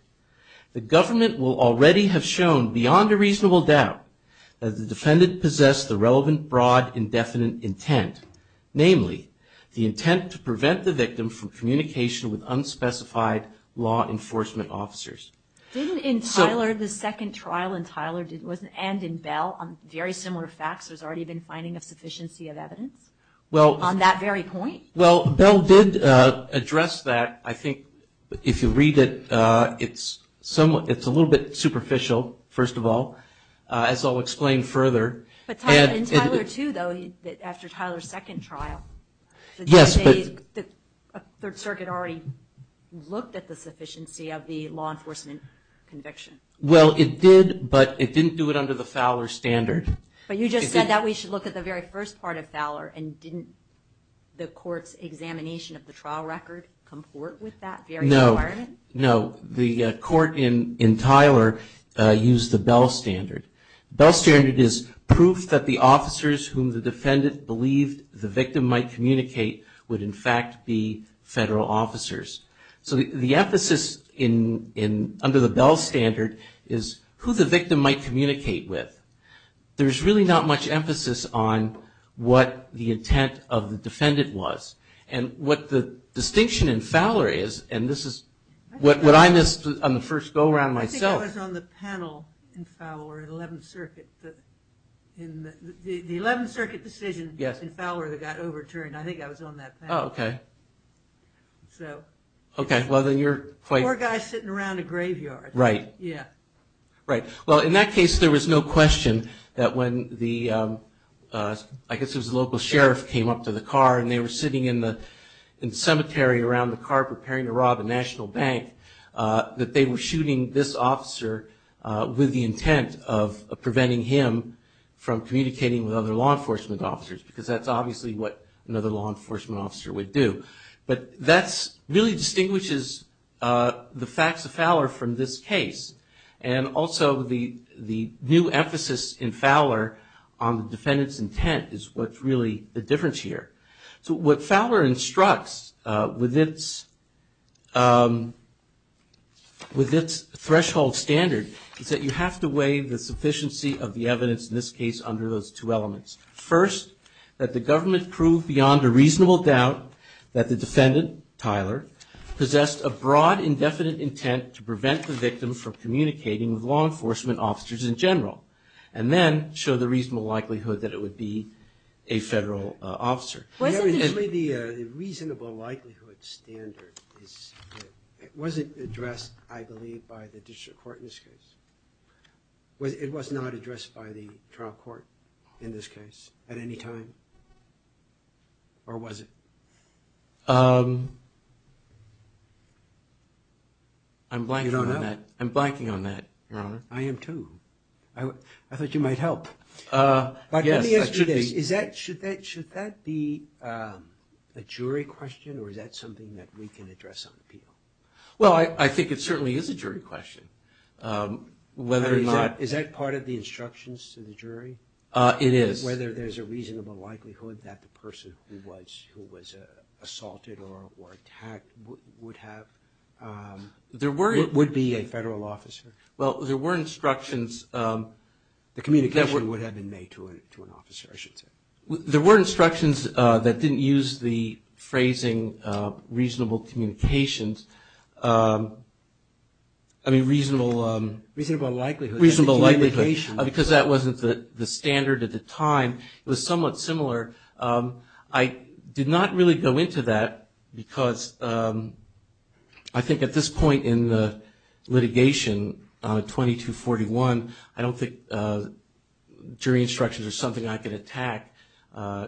The government will already have shown, beyond a reasonable doubt, that the defendant possessed the relevant, broad, indefinite intent, namely, the intent to prevent the victim from communication with unspecified law enforcement officers. Didn't in Tyler, the second trial in Tyler, and in Bell, on very similar facts, there's already been finding a sufficiency of evidence on that very point? Well, Bell did address that. I think if you read it, it's a little bit superficial, first of all, as I'll explain further. But in Tyler too, though, after Tyler's second trial... The government looked at the sufficiency of the law enforcement conviction. Well, it did, but it didn't do it under the Fowler standard. But you just said that we should look at the very first part of Fowler, and didn't the court's examination of the trial record comport with that very requirement? No. No. The court in Tyler used the Bell standard. The Bell standard is proof that the officers whom the defendant believed the victim might in fact be federal officers. So the emphasis under the Bell standard is who the victim might communicate with. There's really not much emphasis on what the intent of the defendant was. And what the distinction in Fowler is, and this is what I missed on the first go-around myself... I think it was on the panel in Fowler, the 11th Circuit. The 11th Circuit decision in Fowler got overturned. I think I was on that panel. Oh, okay. Poor guy sitting around a graveyard. Right. Yeah. Right. Well, in that case, there was no question that when the local sheriff came up to the car, and they were sitting in the cemetery around the car preparing to rob a national bank, that they were shooting this officer with the intent of preventing him from communicating with other law enforcement officers, because that's obviously what another law enforcement officer would do. But that really distinguishes the facts of Fowler from this case. And also, the new emphasis in Fowler on the defendant's intent is what's really the difference here. So what Fowler instructs with its threshold standard is that you have to weigh the sufficiency of the evidence in this case under those two elements. First, that the government proved beyond a reasonable doubt that the defendant, Tyler, possessed a broad indefinite intent to prevent the victim from communicating with law enforcement officers in general. And then, show the reasonable likelihood that it would be a federal officer. Well, obviously, the reasonable likelihood standard, it wasn't addressed, I believe, by the district court in this case. It was not addressed by the trial court in this case at any time? Or was it? I'm blanking on that. I'm blanking on that, Your Honor. I am, too. I thought you might help. But let me ask you this. Should that be a jury question? Or is that something that we can address on appeal? Well, I think it certainly is a jury question. Is that part of the instructions to the jury? It is. Whether there's a reasonable likelihood that the person who was assaulted or attacked would be a federal officer? Well, there were instructions. The communication would have been made to an officer, I should say. There were instructions that didn't use the phrasing reasonable communications. I mean, reasonable likelihood. Because that wasn't the standard at the time. It was somewhat similar. I did not really go into that because I think at this point in the litigation, 2241, I don't think jury instructions are something I can attack.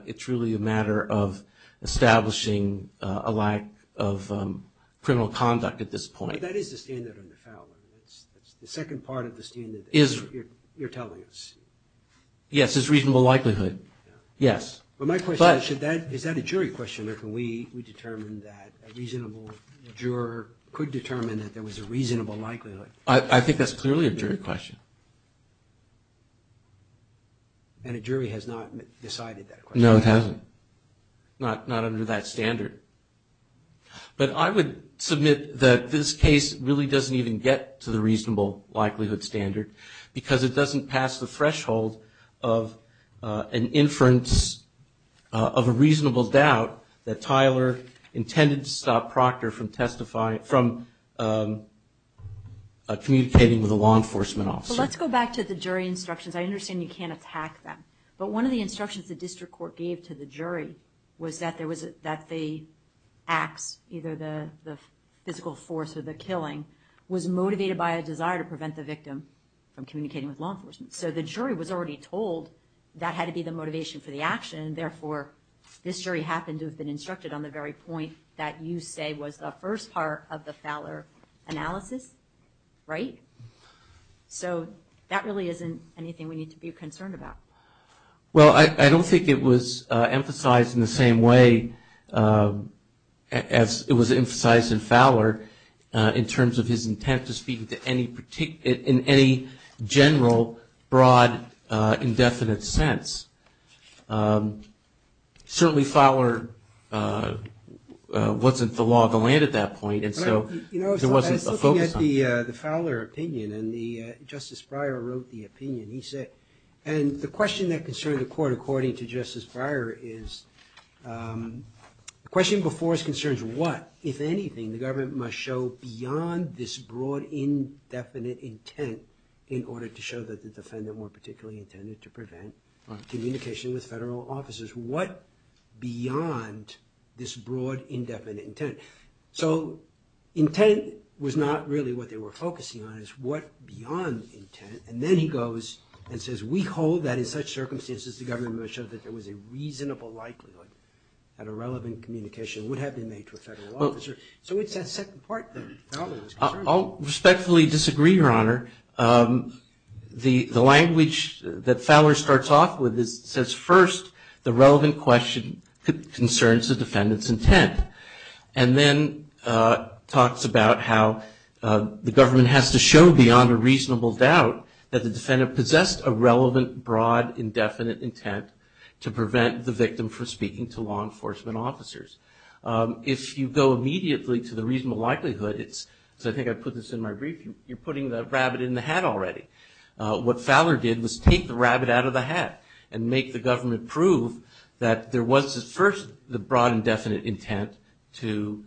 It's really a matter of establishing a lack of criminal conduct at this point. But that is the standard of the felon. It's the second part of the standard that you're telling us. Yes, it's reasonable likelihood. Yes. But my question is, is that a jury question? We determined that a reasonable juror could determine that there was a reasonable likelihood. I think that's clearly a jury question. And a jury has not decided that question. No, it hasn't. Not under that standard. But I would submit that this case really doesn't even get to the reasonable likelihood standard because it doesn't pass the threshold of an inference of a reasonable doubt that Tyler intended to stop Proctor from communicating with a law enforcement officer. Let's go back to the jury instructions. I understand you can't attack them. But one of the instructions the district court gave to the jury was that they act, either the physical force or the killing, was motivated by a desire to prevent the victim from communicating with law enforcement. So the jury was already told that had to be the motivation for the action. Therefore, this jury happened to have been instructed on the very point that you say was the first part of the Fowler analysis. Right? So that really isn't anything we need to be concerned about. Well, I don't think it was emphasized in the same way as it was emphasized in Fowler in terms of his intent to speak in any general, broad, indefinite sense. Certainly Fowler wasn't the law of the land at that point, and so there wasn't a focus on it. Looking at the Fowler opinion, and Justice Breyer wrote the opinion, he said, and the question that concerned the court according to Justice Breyer is, the question before us concerns what, if anything, the government must show beyond this broad, indefinite intent in order to show that the defendant were particularly intended to prevent communication with federal officers. What beyond this broad, indefinite intent? So intent was not really what they were focusing on. It's what beyond intent, and then he goes and says, we hold that in such circumstances the government must show that there was a reasonable likelihood that a relevant communication would have been made to a federal officer. So it's that second part of the problem. I'll respectfully disagree, Your Honor. The language that Fowler starts off with says, first, the relevant question concerns the defendant's intent. And then talks about how the government has to show, beyond a reasonable doubt, that the defendant possessed a relevant, broad, indefinite intent to prevent the victim from speaking to law enforcement officers. If you go immediately to the reasonable likelihood, I think I put this in my brief, you're putting the rabbit in the hat already. What Fowler did was take the rabbit out of the hat and make the government prove that there was, first, the broad, indefinite intent to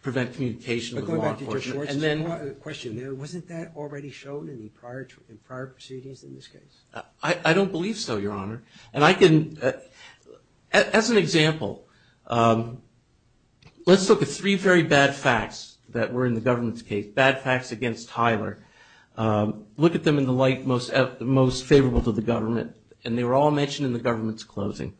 prevent communication with law enforcement. Question, wasn't that already shown in prior proceedings in this case? I don't believe so, Your Honor. As an example, let's look at three very bad facts that were in the government's case, bad facts against Tyler. Look at them in the light most favorable to the government, and they were all mentioned in the government's closing.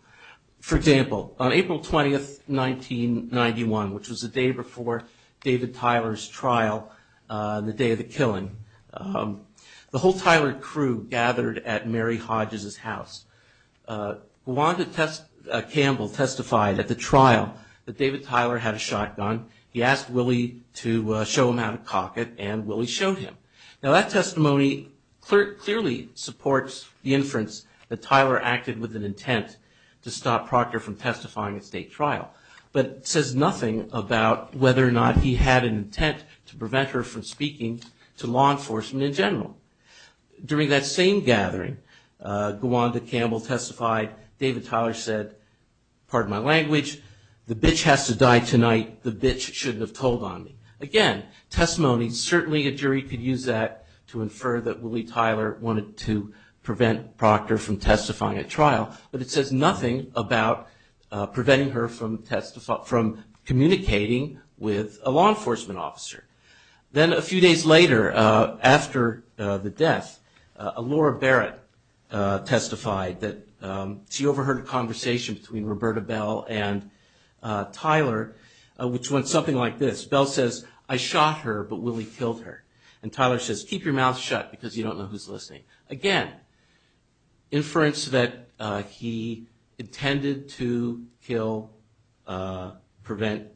For example, on April 20, 1991, which was the day before David Tyler's trial, the day of the killing, the whole Tyler crew gathered at Mary Hodges' house. Wanda Campbell testified at the trial that David Tyler had a shotgun. He asked Willie to show him how to cock it, and Willie showed him. Now, that testimony clearly supports the inference that Tyler acted with an intent to stop Proctor from testifying at state trial, but says nothing about whether or not he had an intent to prevent her from speaking to law enforcement in general. During that same gathering, Wanda Campbell testified, David Tyler said, pardon my language, the bitch has to die tonight, the bitch shouldn't have told on me. Again, testimony, certainly a jury could use that to infer that Willie Tyler wanted to prevent Proctor from testifying at trial, but it says nothing about preventing her from communicating with a law enforcement officer. Then a few days later, after the death, Laura Barrett testified that she overheard a conversation between Roberta Bell and Tyler, which went something like this. Bell says, I shot her, but Willie killed her. And Tyler says, keep your mouth shut because you don't know who's listening. Again, inference that he intended to kill, prevent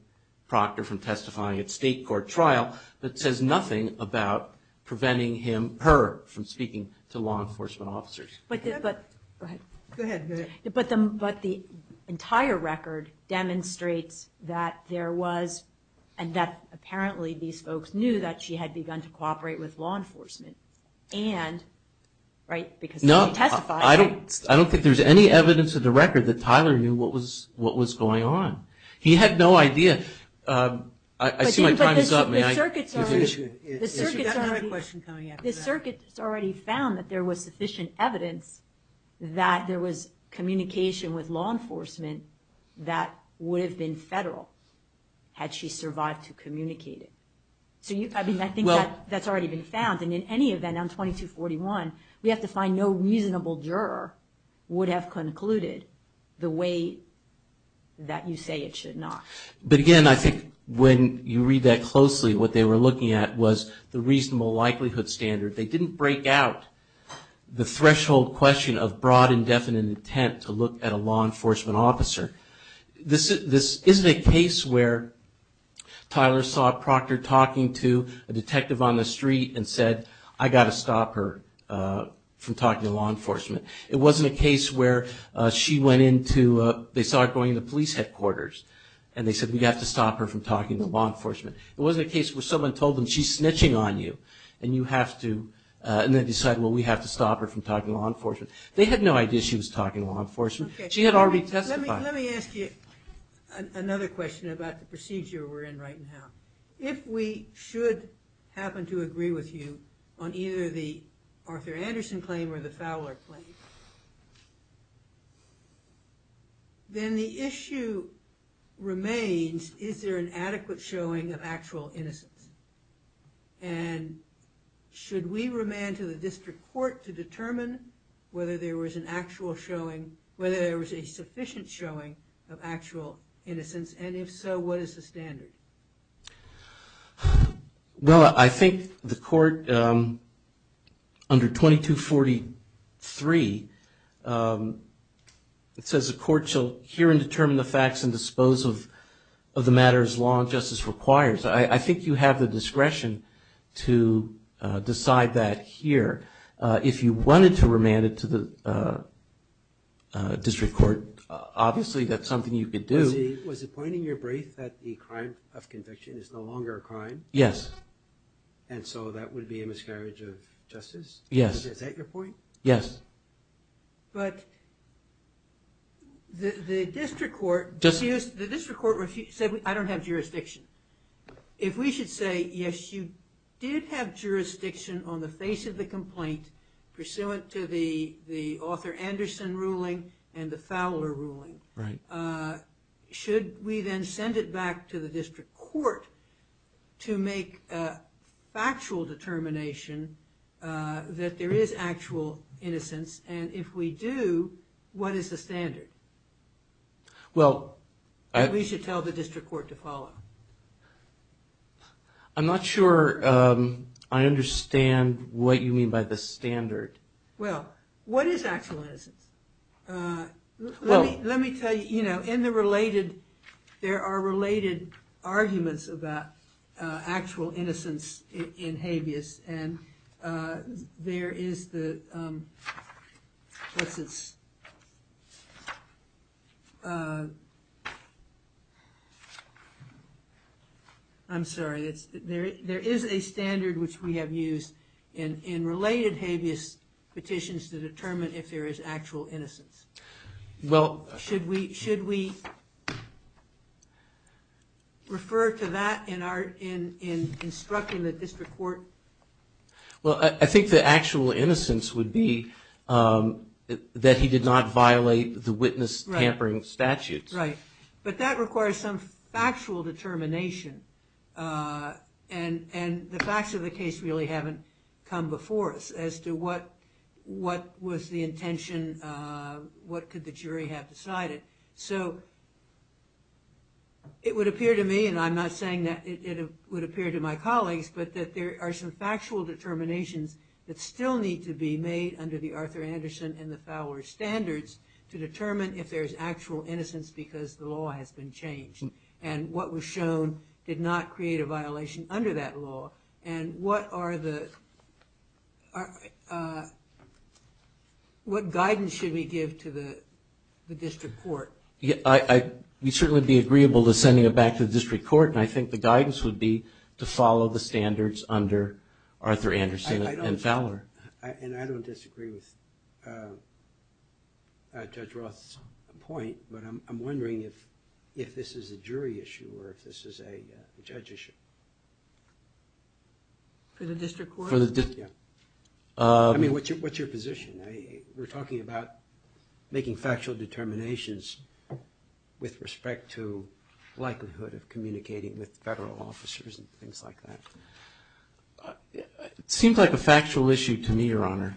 Proctor from testifying at state court trial, but says nothing about preventing her from speaking to law enforcement officers. But the entire record demonstrates that there was, and that apparently these folks knew that she had begun to cooperate with law enforcement. I don't think there's any evidence of the record that Tyler knew what was going on. He had no idea. I see my time is up. The circuit's already found that there was sufficient evidence that there was communication with law enforcement that would have been federal had she survived to communicate it. I think that's already been found, and in any event, on 2241, we have to find no reasonable juror would have concluded the way that you say it should not. But again, I think when you read that closely, what they were looking at was the reasonable likelihood standard. They didn't break out the threshold question of broad indefinite intent to look at a law enforcement officer. This isn't a case where Tyler saw Proctor talking to a detective on the street and said, I've got to stop her from talking to law enforcement. It wasn't a case where she went into, they saw her going into police headquarters, and they said, we've got to stop her from talking to law enforcement. It wasn't a case where someone told them, she's snitching on you, and you have to, and then decided, well, we have to stop her from talking to law enforcement. They had no idea she was talking to law enforcement. She had already testified. Let me ask you another question about the procedure we're in right now. If we should happen to agree with you on either the Arthur Anderson claim or the Fowler claim, then the issue remains, is there an adequate showing of actual innocence? And should we remand to the district court to determine whether there was an actual showing, whether there was a sufficient showing of actual innocence? And if so, what is the standard? Well, I think the court under 2243, it says the court shall hear and determine the facts and dispose of the matter as law and justice requires. I think you have the discretion to decide that here. If you wanted to remand it to the district court, obviously that's something you could do. Was it pointing your brain that the crime of conviction is no longer a crime? Yes. And so that would be a miscarriage of justice? Yes. Is that your point? Yes. But the district court said I don't have jurisdiction. If we should say, yes, you did have jurisdiction on the face of the complaint pursuant to the Arthur Anderson ruling and the Fowler ruling, should we then send it back to the district court to make a factual determination that there is actual innocence? And if we do, what is the standard? Well, we should tell the district court to follow. I'm not sure I understand what you mean by the standard. Well, what is actual innocence? Let me tell you, in the related, there are related arguments about actual innocence in habeas and there is a standard which we have used in related habeas petitions to determine if there is actual innocence. Should we refer to that in our instruction to the district court? Well, I think the actual innocence would be that he did not violate the witness tampering statute. Right. But that requires some factual determination and the facts of the case really haven't come before us as to what was the intention, what could the jury have decided. So it would appear to me, and I'm not saying that it would appear to my colleagues, but that there are some factual determinations that still need to be made under the Arthur Anderson and the Fowler standards to determine if there is actual innocence because the law has been changed and what was shown did not create a violation under that law and what guidance should we give to the district court? We certainly would be agreeable to sending it back to the district court and I think the guidance would be to follow the standards under Arthur Anderson and Fowler. And I don't disagree with Judge Roth's point, but I'm wondering if this is a jury issue or if this is a judge issue. For the district court? For the district, yeah. I mean, what's your position? We're talking about making factual determinations with respect to likelihood of communicating with federal officers and things like that. It seems like a factual issue to me, Your Honor.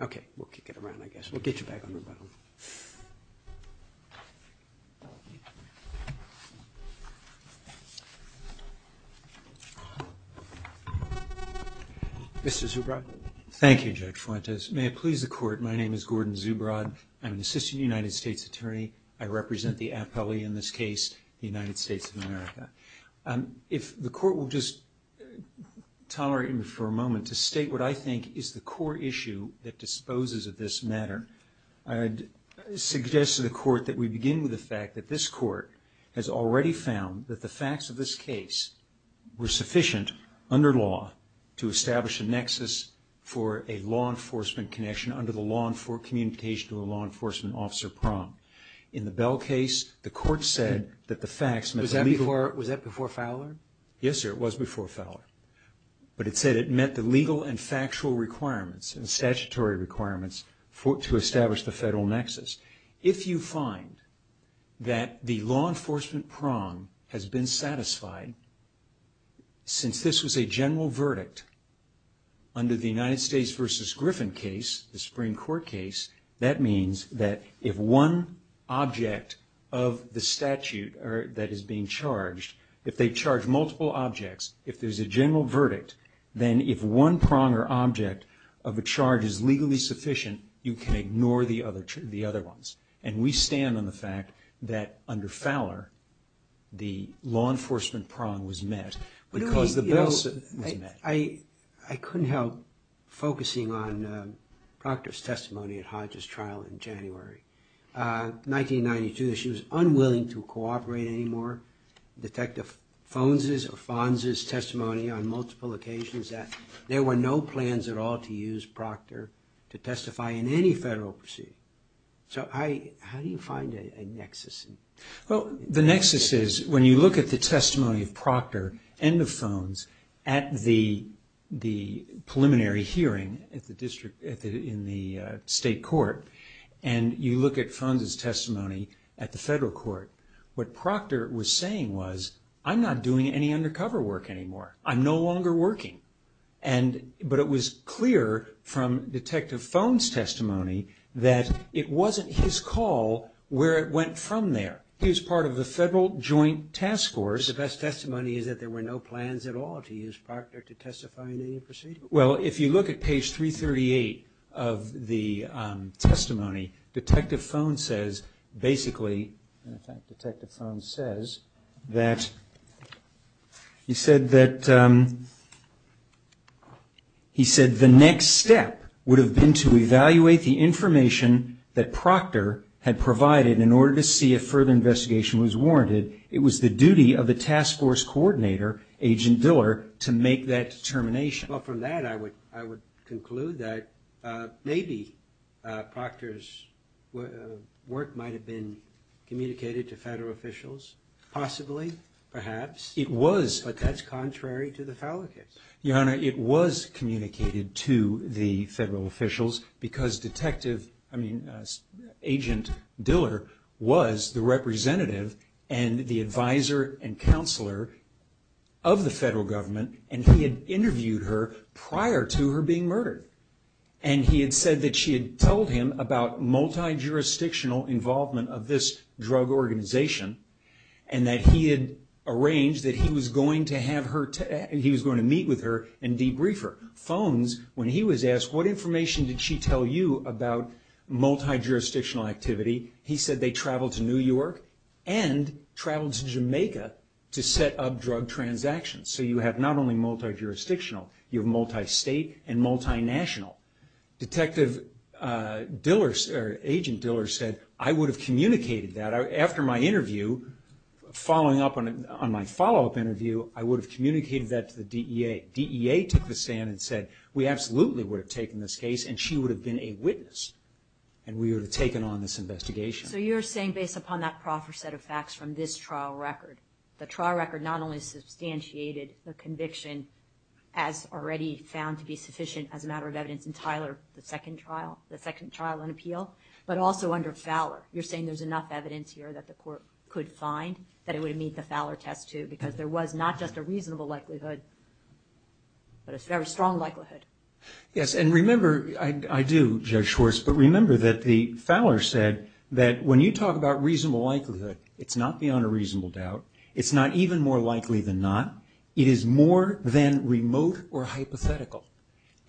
Okay, we'll kick it around, I guess. Mr. Zubrod. Thank you, Judge Fuentes. May it please the court, my name is Gordon Zubrod. I'm an assistant United States attorney. I represent the appellee in this case, the United States of America. If the court will just tolerate me for a moment to state what I think is the core issue that disposes of this matter, I'd suggest to the court that we begin with the fact that this court has already found that the facts of this case were sufficient under law to establish a nexus for a law enforcement connection under the law enforcement communication of the law enforcement officer prom. In the Bell case, the court said that the facts met the legal... Was that before Fowler? Yes, sir, it was before Fowler. But it said it met the legal and factual requirements and statutory requirements to establish the federal nexus. If you find that the law enforcement prom has been satisfied, since this was a general verdict under the United States v. Griffin case, the Supreme Court case, that means that if one object of the statute that is being charged, if they charge multiple objects, if there's a general verdict, then if one prom or object of a charge is legally sufficient, you can ignore the other ones. And we stand on the fact that under Fowler, the law enforcement prom was met because the Bell case was met. I couldn't help focusing on Proctor's testimony at Hodge's trial in January 1992. She was unwilling to cooperate anymore. Detective Fonza's testimony on multiple occasions that there were no plans at all to use Proctor to testify in any federal proceeding. So how do you find a nexus? Well, the nexus is when you look at the testimony of Proctor and of Fonz at the preliminary hearing in the state court, and you look at Fonza's testimony at the federal court, what Proctor was saying was, I'm not doing any undercover work anymore. I'm no longer working. But it was clear from Detective Fonza's testimony that it wasn't his call where it went from there. He was part of the federal joint task force. The best testimony is that there were no plans at all to use Proctor to testify in any proceeding. Well, if you look at page 338 of the testimony, Detective Fonza says, basically, Detective Fonza says that, he said that, he said the next step would have been to evaluate the information that Proctor had provided in order to see if further investigation was warranted. It was the duty of the task force coordinator, Agent Diller, to make that determination. Well, from that, I would conclude that maybe Proctor's work might have been communicated to federal officials, possibly, perhaps. It was. But that's contrary to the felonies. Your Honor, it was communicated to the federal officials because Agent Diller was the representative and the advisor and counselor of the federal government, and he had interviewed her prior to her being murdered. And he had said that she had told him about multi-jurisdictional involvement of this drug organization, and that he had arranged that he was going to meet with her and debrief her. Fonz, when he was asked, what information did she tell you about multi-jurisdictional activity, he said they traveled to New York and traveled to Jamaica to set up drug transactions. So you have not only multi-jurisdictional, you have multi-state and multi-national. Agent Diller said, I would have communicated that. After my interview, following up on my follow-up interview, I would have communicated that to the DEA. The DEA took the stand and said, we absolutely would have taken this case and she would have been a witness and we would have taken on this investigation. So you're saying based upon that proper set of facts from this trial record, the trial record not only substantiated the conviction as already found to be sufficient as a matter of evidence in Tyler, the second trial, the second trial and appeal, but also under Fowler. You're saying there's enough evidence here that the court could find that it would have made the Fowler test too, because there was not just a reasonable likelihood, but a very strong likelihood. Yes, and remember, I do, Judge Schwartz, but remember that the Fowler said that when you talk about reasonable likelihood, it's not beyond a reasonable doubt. It's not even more likely than not. It is more than remote or hypothetical.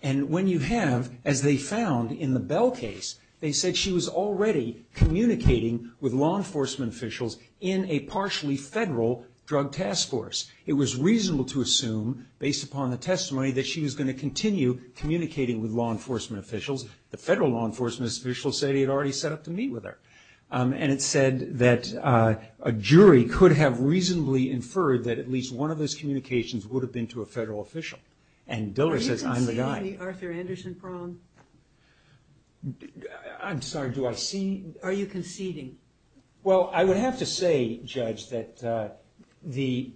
And when you have, as they found in the Bell case, they said she was already communicating with law enforcement officials in a partially federal drug task force. It was reasonable to assume, based upon the testimony, that she was going to continue communicating with law enforcement officials. The federal law enforcement officials said he had already set up to meet with her. And it said that a jury could have reasonably inferred that at least one of those communications would have been to a federal official. And Diller says, I'm the guy. Are you conceding the Arthur Anderson prong? I'm sorry, do I see? Are you conceding? Well, I would have to say, Judge, that the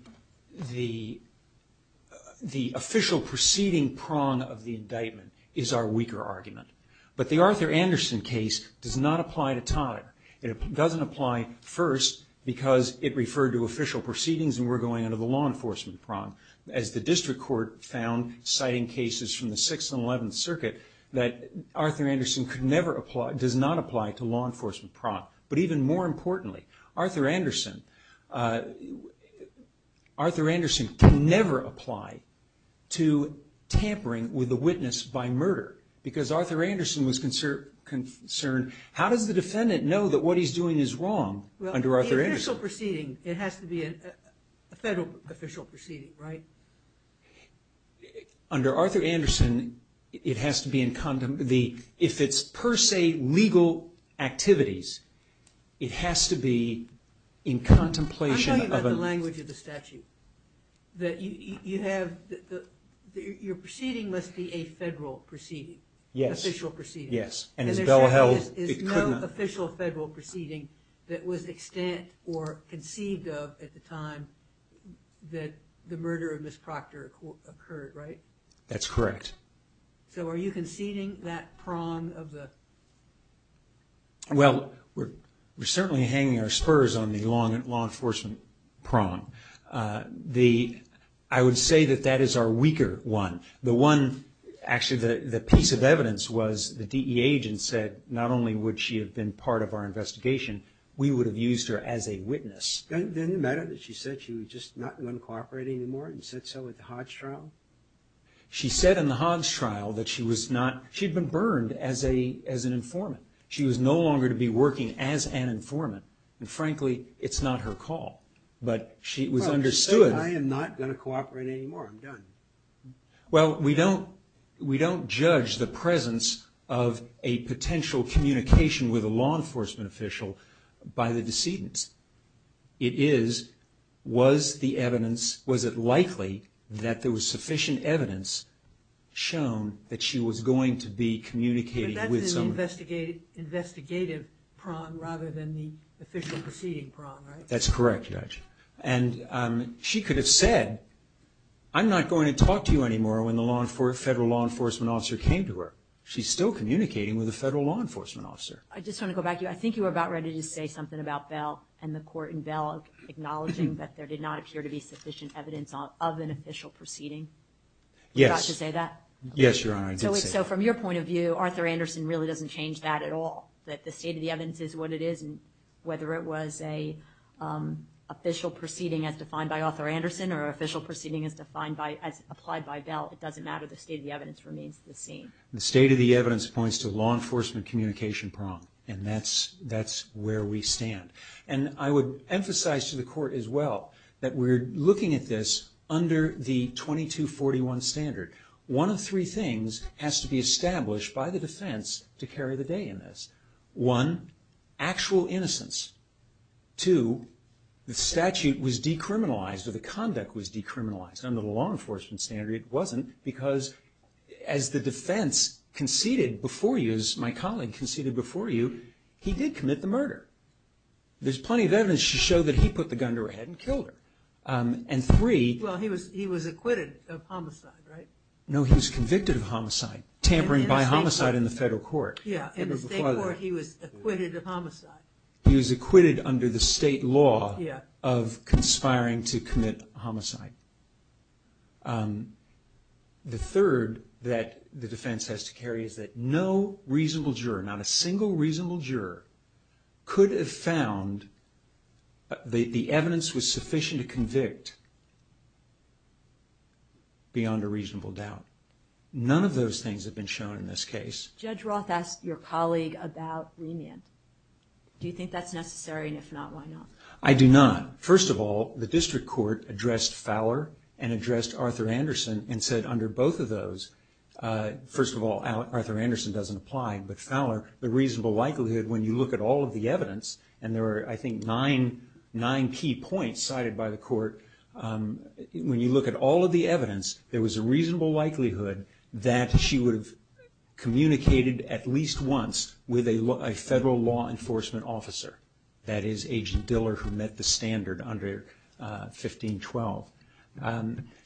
official proceeding prong of the indictment is our weaker argument. But the Arthur Anderson case does not apply to Todd. It doesn't apply, first, because it referred to official proceedings and we're going under the law enforcement prong. As the district court found, citing cases from the 6th and 11th Circuit, that Arthur Anderson does not apply to law enforcement prong. But even more importantly, Arthur Anderson can never apply to tampering with a witness by murder. Because Arthur Anderson was concerned. How did the defendant know that what he's doing is wrong under Arthur Anderson? Well, the official proceeding, it has to be a federal official proceeding, right? Under Arthur Anderson, it has to be in contemplation. If it's per se legal activities, it has to be in contemplation. I'm talking about the language of the statute. Your proceeding must be a federal proceeding. Yes. Official proceeding. Yes. And there's no official federal proceeding that was extant or conceived of at the time that the murder of Ms. Proctor occurred, right? That's correct. So are you conceding that prong of the... Well, we're certainly hanging our spurs on the law enforcement prong. I would say that that is our weaker one. Actually, the piece of evidence was the DEA agent said not only would she have been part of our investigation, we would have used her as a witness. Didn't it matter that she said she was just not going to cooperate anymore and said so at the Hodge trial? She said in the Hodge trial that she had been burned as an informant. She was no longer to be working as an informant. And frankly, it's not her call. But she understood... She said, I am not going to cooperate anymore. I'm done. Well, we don't judge the presence of a potential communication with a law enforcement official by the decedent. It is, was the evidence, was it likely that there was sufficient evidence shown that she was going to be communicating with someone? The investigative prong rather than the official proceeding prong, right? That's correct, Judge. And she could have said, I'm not going to talk to you anymore when the federal law enforcement officer came to her. She's still communicating with the federal law enforcement officer. I just want to go back to you. I think you were about ready to say something about Bell and the court in Bell acknowledging that there did not appear to be sufficient evidence of an official proceeding. Yes. Did you have to say that? Yes, Your Honor, I did say that. So from your point of view, Arthur Anderson really doesn't change that at all, that the state of the evidence is what it is, and whether it was an official proceeding as defined by Arthur Anderson or an official proceeding as applied by Bell, it doesn't matter. The state of the evidence remains the same. The state of the evidence points to law enforcement communication prong, and that's where we stand. And I would emphasize to the court as well that we're looking at this under the 2241 standard. One of three things has to be established by the defense to carry the day in this. One, actual innocence. Two, the statute was decriminalized or the conduct was decriminalized. Under the law enforcement standard it wasn't because as the defense conceded before you, as my colleague conceded before you, he did commit the murder. There's plenty of evidence to show that he put the gun to her head and killed her. Well, he was acquitted of homicide, right? No, he was convicted of homicide, tampering by homicide in the federal court. Yeah, in the state court he was acquitted of homicide. He was acquitted under the state law of conspiring to commit homicide. The third that the defense has to carry is that no reasonable juror, could have found the evidence was sufficient to convict beyond a reasonable doubt. None of those things have been shown in this case. Judge Roth asked your colleague about remand. Do you think that's necessary and if not, why not? I do not. First of all, the district court addressed Fowler and addressed Arthur Anderson and said under both of those, first of all, Arthur Anderson doesn't apply, but Fowler, the reasonable likelihood when you look at all of the evidence, and there are I think nine key points cited by the court, when you look at all of the evidence, there was a reasonable likelihood that she would have communicated at least once with a federal law enforcement officer, that is Agent Diller who met the standard under 1512.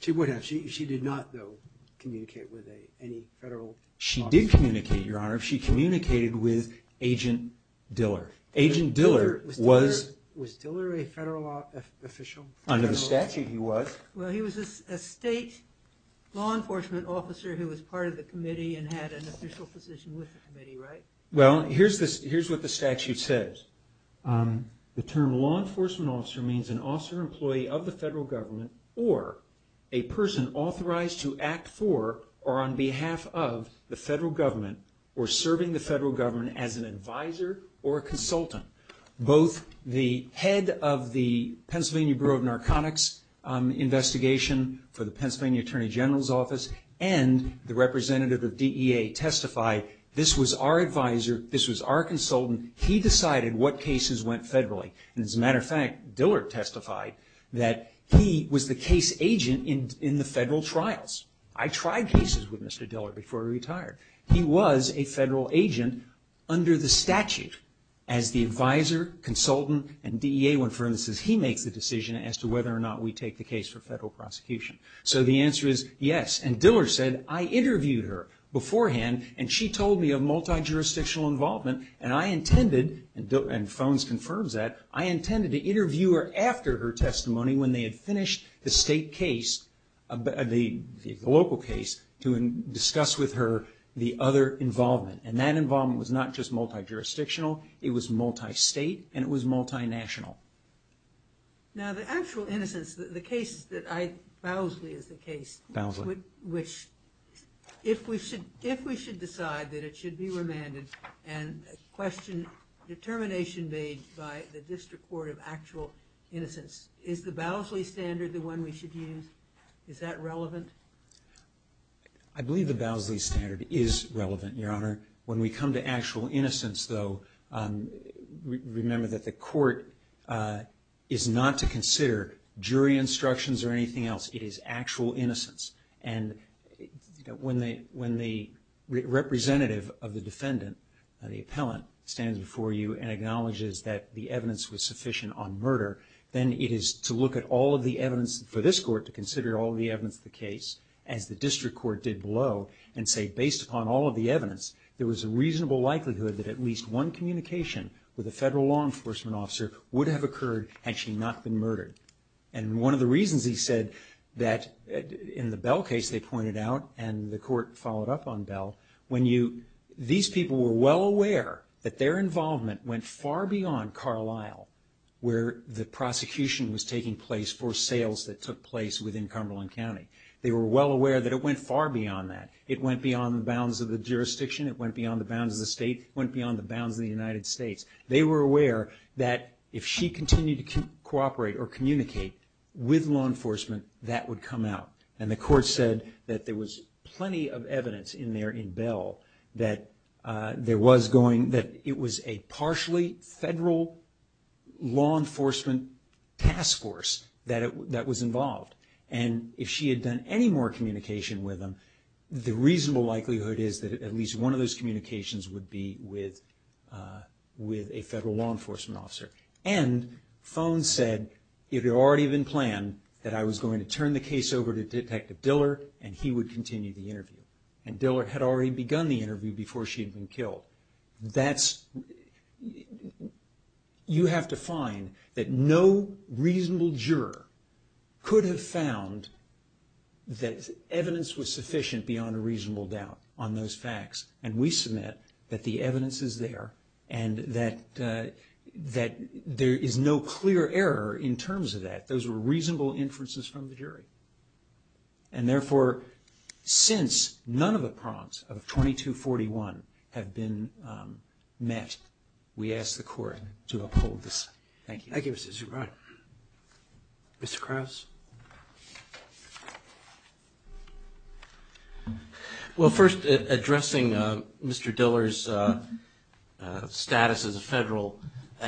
She would have. She did not, though, communicate with any federal officer. She did communicate, Your Honor. She communicated with Agent Diller. Agent Diller was… Was Diller a federal official? Under the statute, he was. Well, he was a state law enforcement officer who was part of the committee and had an official position with the committee, right? Well, here's what the statute says. The term law enforcement officer means an officer employee of the federal government or a person authorized to act for or on behalf of the federal government or serving the federal government as an advisor or consultant. Both the head of the Pennsylvania Bureau of Narcotics Investigation for the Pennsylvania Attorney General's Office and the representative of DEA testified this was our advisor, this was our consultant. He decided what cases went federally. As a matter of fact, Diller testified that he was the case agent in the federal trials. I tried cases with Mr. Diller before he retired. He was a federal agent under the statute as the advisor, consultant, and DEA when, for instance, he makes the decision as to whether or not we take the case for federal prosecution. So the answer is yes. And Diller said, I interviewed her beforehand and she told me of multi-jurisdictional involvement and I intended, and Phones confirms that, I intended to interview her after her testimony when they had finished the state case, the local case, to discuss with her the other involvement. And that involvement was not just multi-jurisdictional, it was multi-state and it was multi-national. Now the actual innocence, the case that I, Bowsley is the case. Bowsley. Which, if we should, if we should decide that it should be remanded and question determination made by the District Court of Actual Innocence, is the Bowsley standard the one we should use? Is that relevant? I believe the Bowsley standard is relevant, Your Honor. When we come to actual innocence, though, remember that the court is not to consider jury instructions or anything else. It is actual innocence. And when the representative of the defendant, the appellant, stands before you and acknowledges that the evidence was sufficient on murder, then it is to look at all of the evidence for this court to consider all of the evidence of the case, as the district court did below, and say, based upon all of the evidence, there was a reasonable likelihood that at least one communication with a federal law enforcement officer would have occurred had she not been murdered. And one of the reasons, he said, that in the Bell case, they pointed out, and the court followed up on Bell, when you, these people were well aware that their involvement went far beyond Carlisle, where the prosecution was taking place for sales that took place within Cumberland County. They were well aware that it went far beyond that. It went beyond the bounds of the jurisdiction. It went beyond the bounds of the state. It went beyond the bounds of the United States. They were aware that if she continued to cooperate or communicate with law enforcement, that would come out. And the court said that there was plenty of evidence in there in Bell that there was going, that it was a partially federal law enforcement task force that was involved. And if she had done any more communication with him, the reasonable likelihood is that at least one of those communications would be with a federal law enforcement officer. And Fone said, if it had already been planned, that I was going to turn the case over to Detective Diller and he would continue the interview. And Diller had already begun the interview before she had been killed. That's, you have to find that no reasonable juror could have found that evidence was sufficient beyond a reasonable doubt on those facts. And we submit that the evidence is there and that there is no clear error in terms of that. Those were reasonable inferences from the jury. And therefore, since none of the prongs of 2241 have been met, we ask the court to uphold this. Thank you. Mr. Krauss? Well, first, addressing Mr. Diller's status as a federal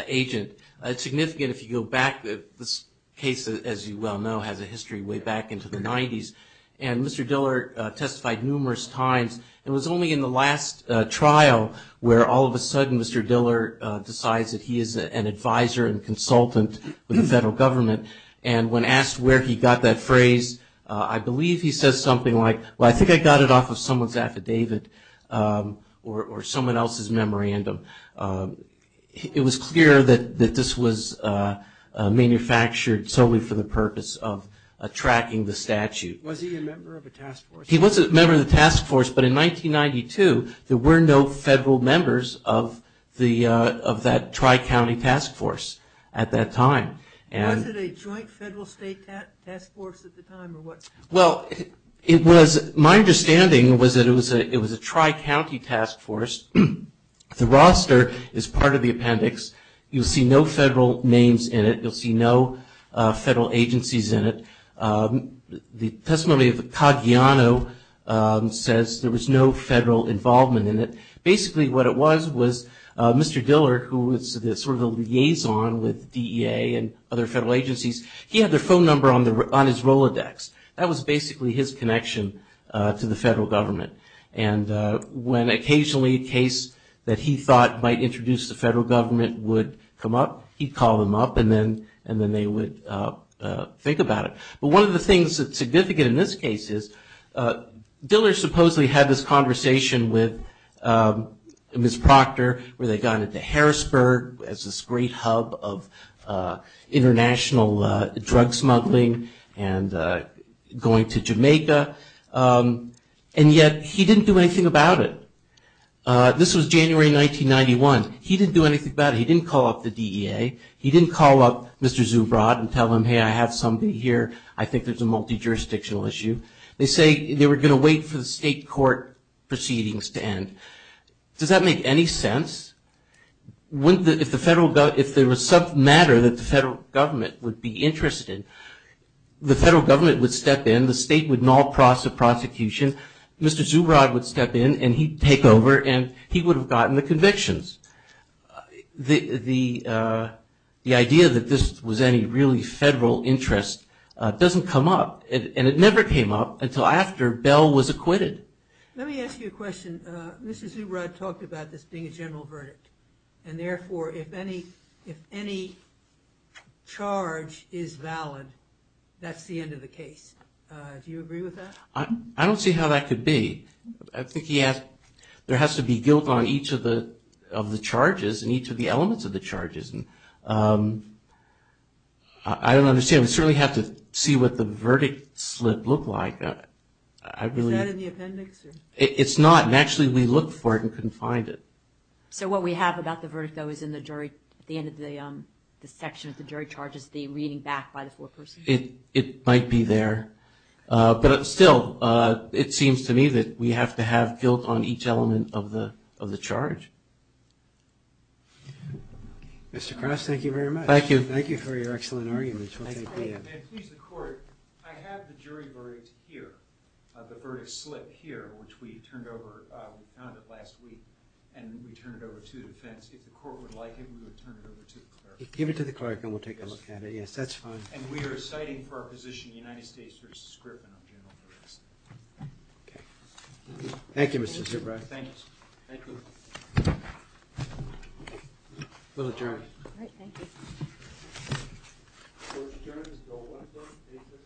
agent, it's significant if you go back, this case, as you well know, has a history way back into the 90s. And Mr. Diller testified numerous times. It was only in the last trial where all of a sudden Mr. Diller decides that he is an advisor and consultant for the federal government. And when asked where he got that phrase, I believe he said something like, well, I think I got it off of someone's affidavit or someone else's memorandum. It was clear that this was manufactured solely for the purpose of tracking the statute. Was he a member of a task force? He was a member of a task force. But in 1992, there were no federal members of that tri-county task force at that time. Was it a joint federal state task force at the time or what? Well, my understanding was that it was a tri-county task force. The roster is part of the appendix. You'll see no federal names in it. You'll see no federal agencies in it. The testimony of Pagliano says there was no federal involvement in it. Basically, what it was was Mr. Diller, who was sort of the liaison with DEA and other federal agencies, he had their phone number on his Rolodex. That was basically his connection to the federal government. When occasionally a case that he thought might introduce the federal government would come up, he'd call them up and then they would think about it. But one of the things that's significant in this case is Diller supposedly had this conversation with Ms. Proctor, where they got into Harrisburg as this great hub of international drug smuggling and going to Jamaica. And yet he didn't do anything about it. This was January 1991. He didn't do anything about it. He didn't call up the DEA. He didn't call up Mr. Zubrod and tell him, hey, I have somebody here. I think there's a multi-jurisdictional issue. They say they were going to wait for the state court proceedings to end. Does that make any sense? If there was some matter that the federal government would be interested, the federal government would step in. The state would null the prosecution. Mr. Zubrod would step in, and he'd take over, and he would have gotten the convictions. The idea that this was any really federal interest doesn't come up, and it never came up until after Bell was acquitted. Let me ask you a question. Mr. Zubrod talked about this being a general verdict, and therefore if any charge is valid, that's the end of the case. Do you agree with that? I don't see how that could be. I think he asked, there has to be guilt on each of the charges and each of the elements of the charges. I don't understand. We certainly have to see what the verdict slip looked like. Is that in the appendix? It's not, and actually we looked for it and couldn't find it. So what we have about the verdict, though, is in the section of the jury charges, the reading back by the court proceedings. It might be there, but still, it seems to me that we have to have guilt on each element of the charge. Mr. Cross, thank you very much. Thank you. Thank you for your excellent argument. And please, the court, I have the jury verdict here, the verdict slip here, which we turned over, we found it last week, and we turned it over to the defense. If the court would like it, we would turn it over to the court. Give it to the court, and we'll take a look at it. If that's fine. And we are citing for our position the United States versus Griffin. Thank you, Mr. Zubrow. Thanks. Thank you. We'll adjourn. All right, thank you. All right, we'll adjourn until 1 o'clock. Thank you. Congratulations. Good night. Good night.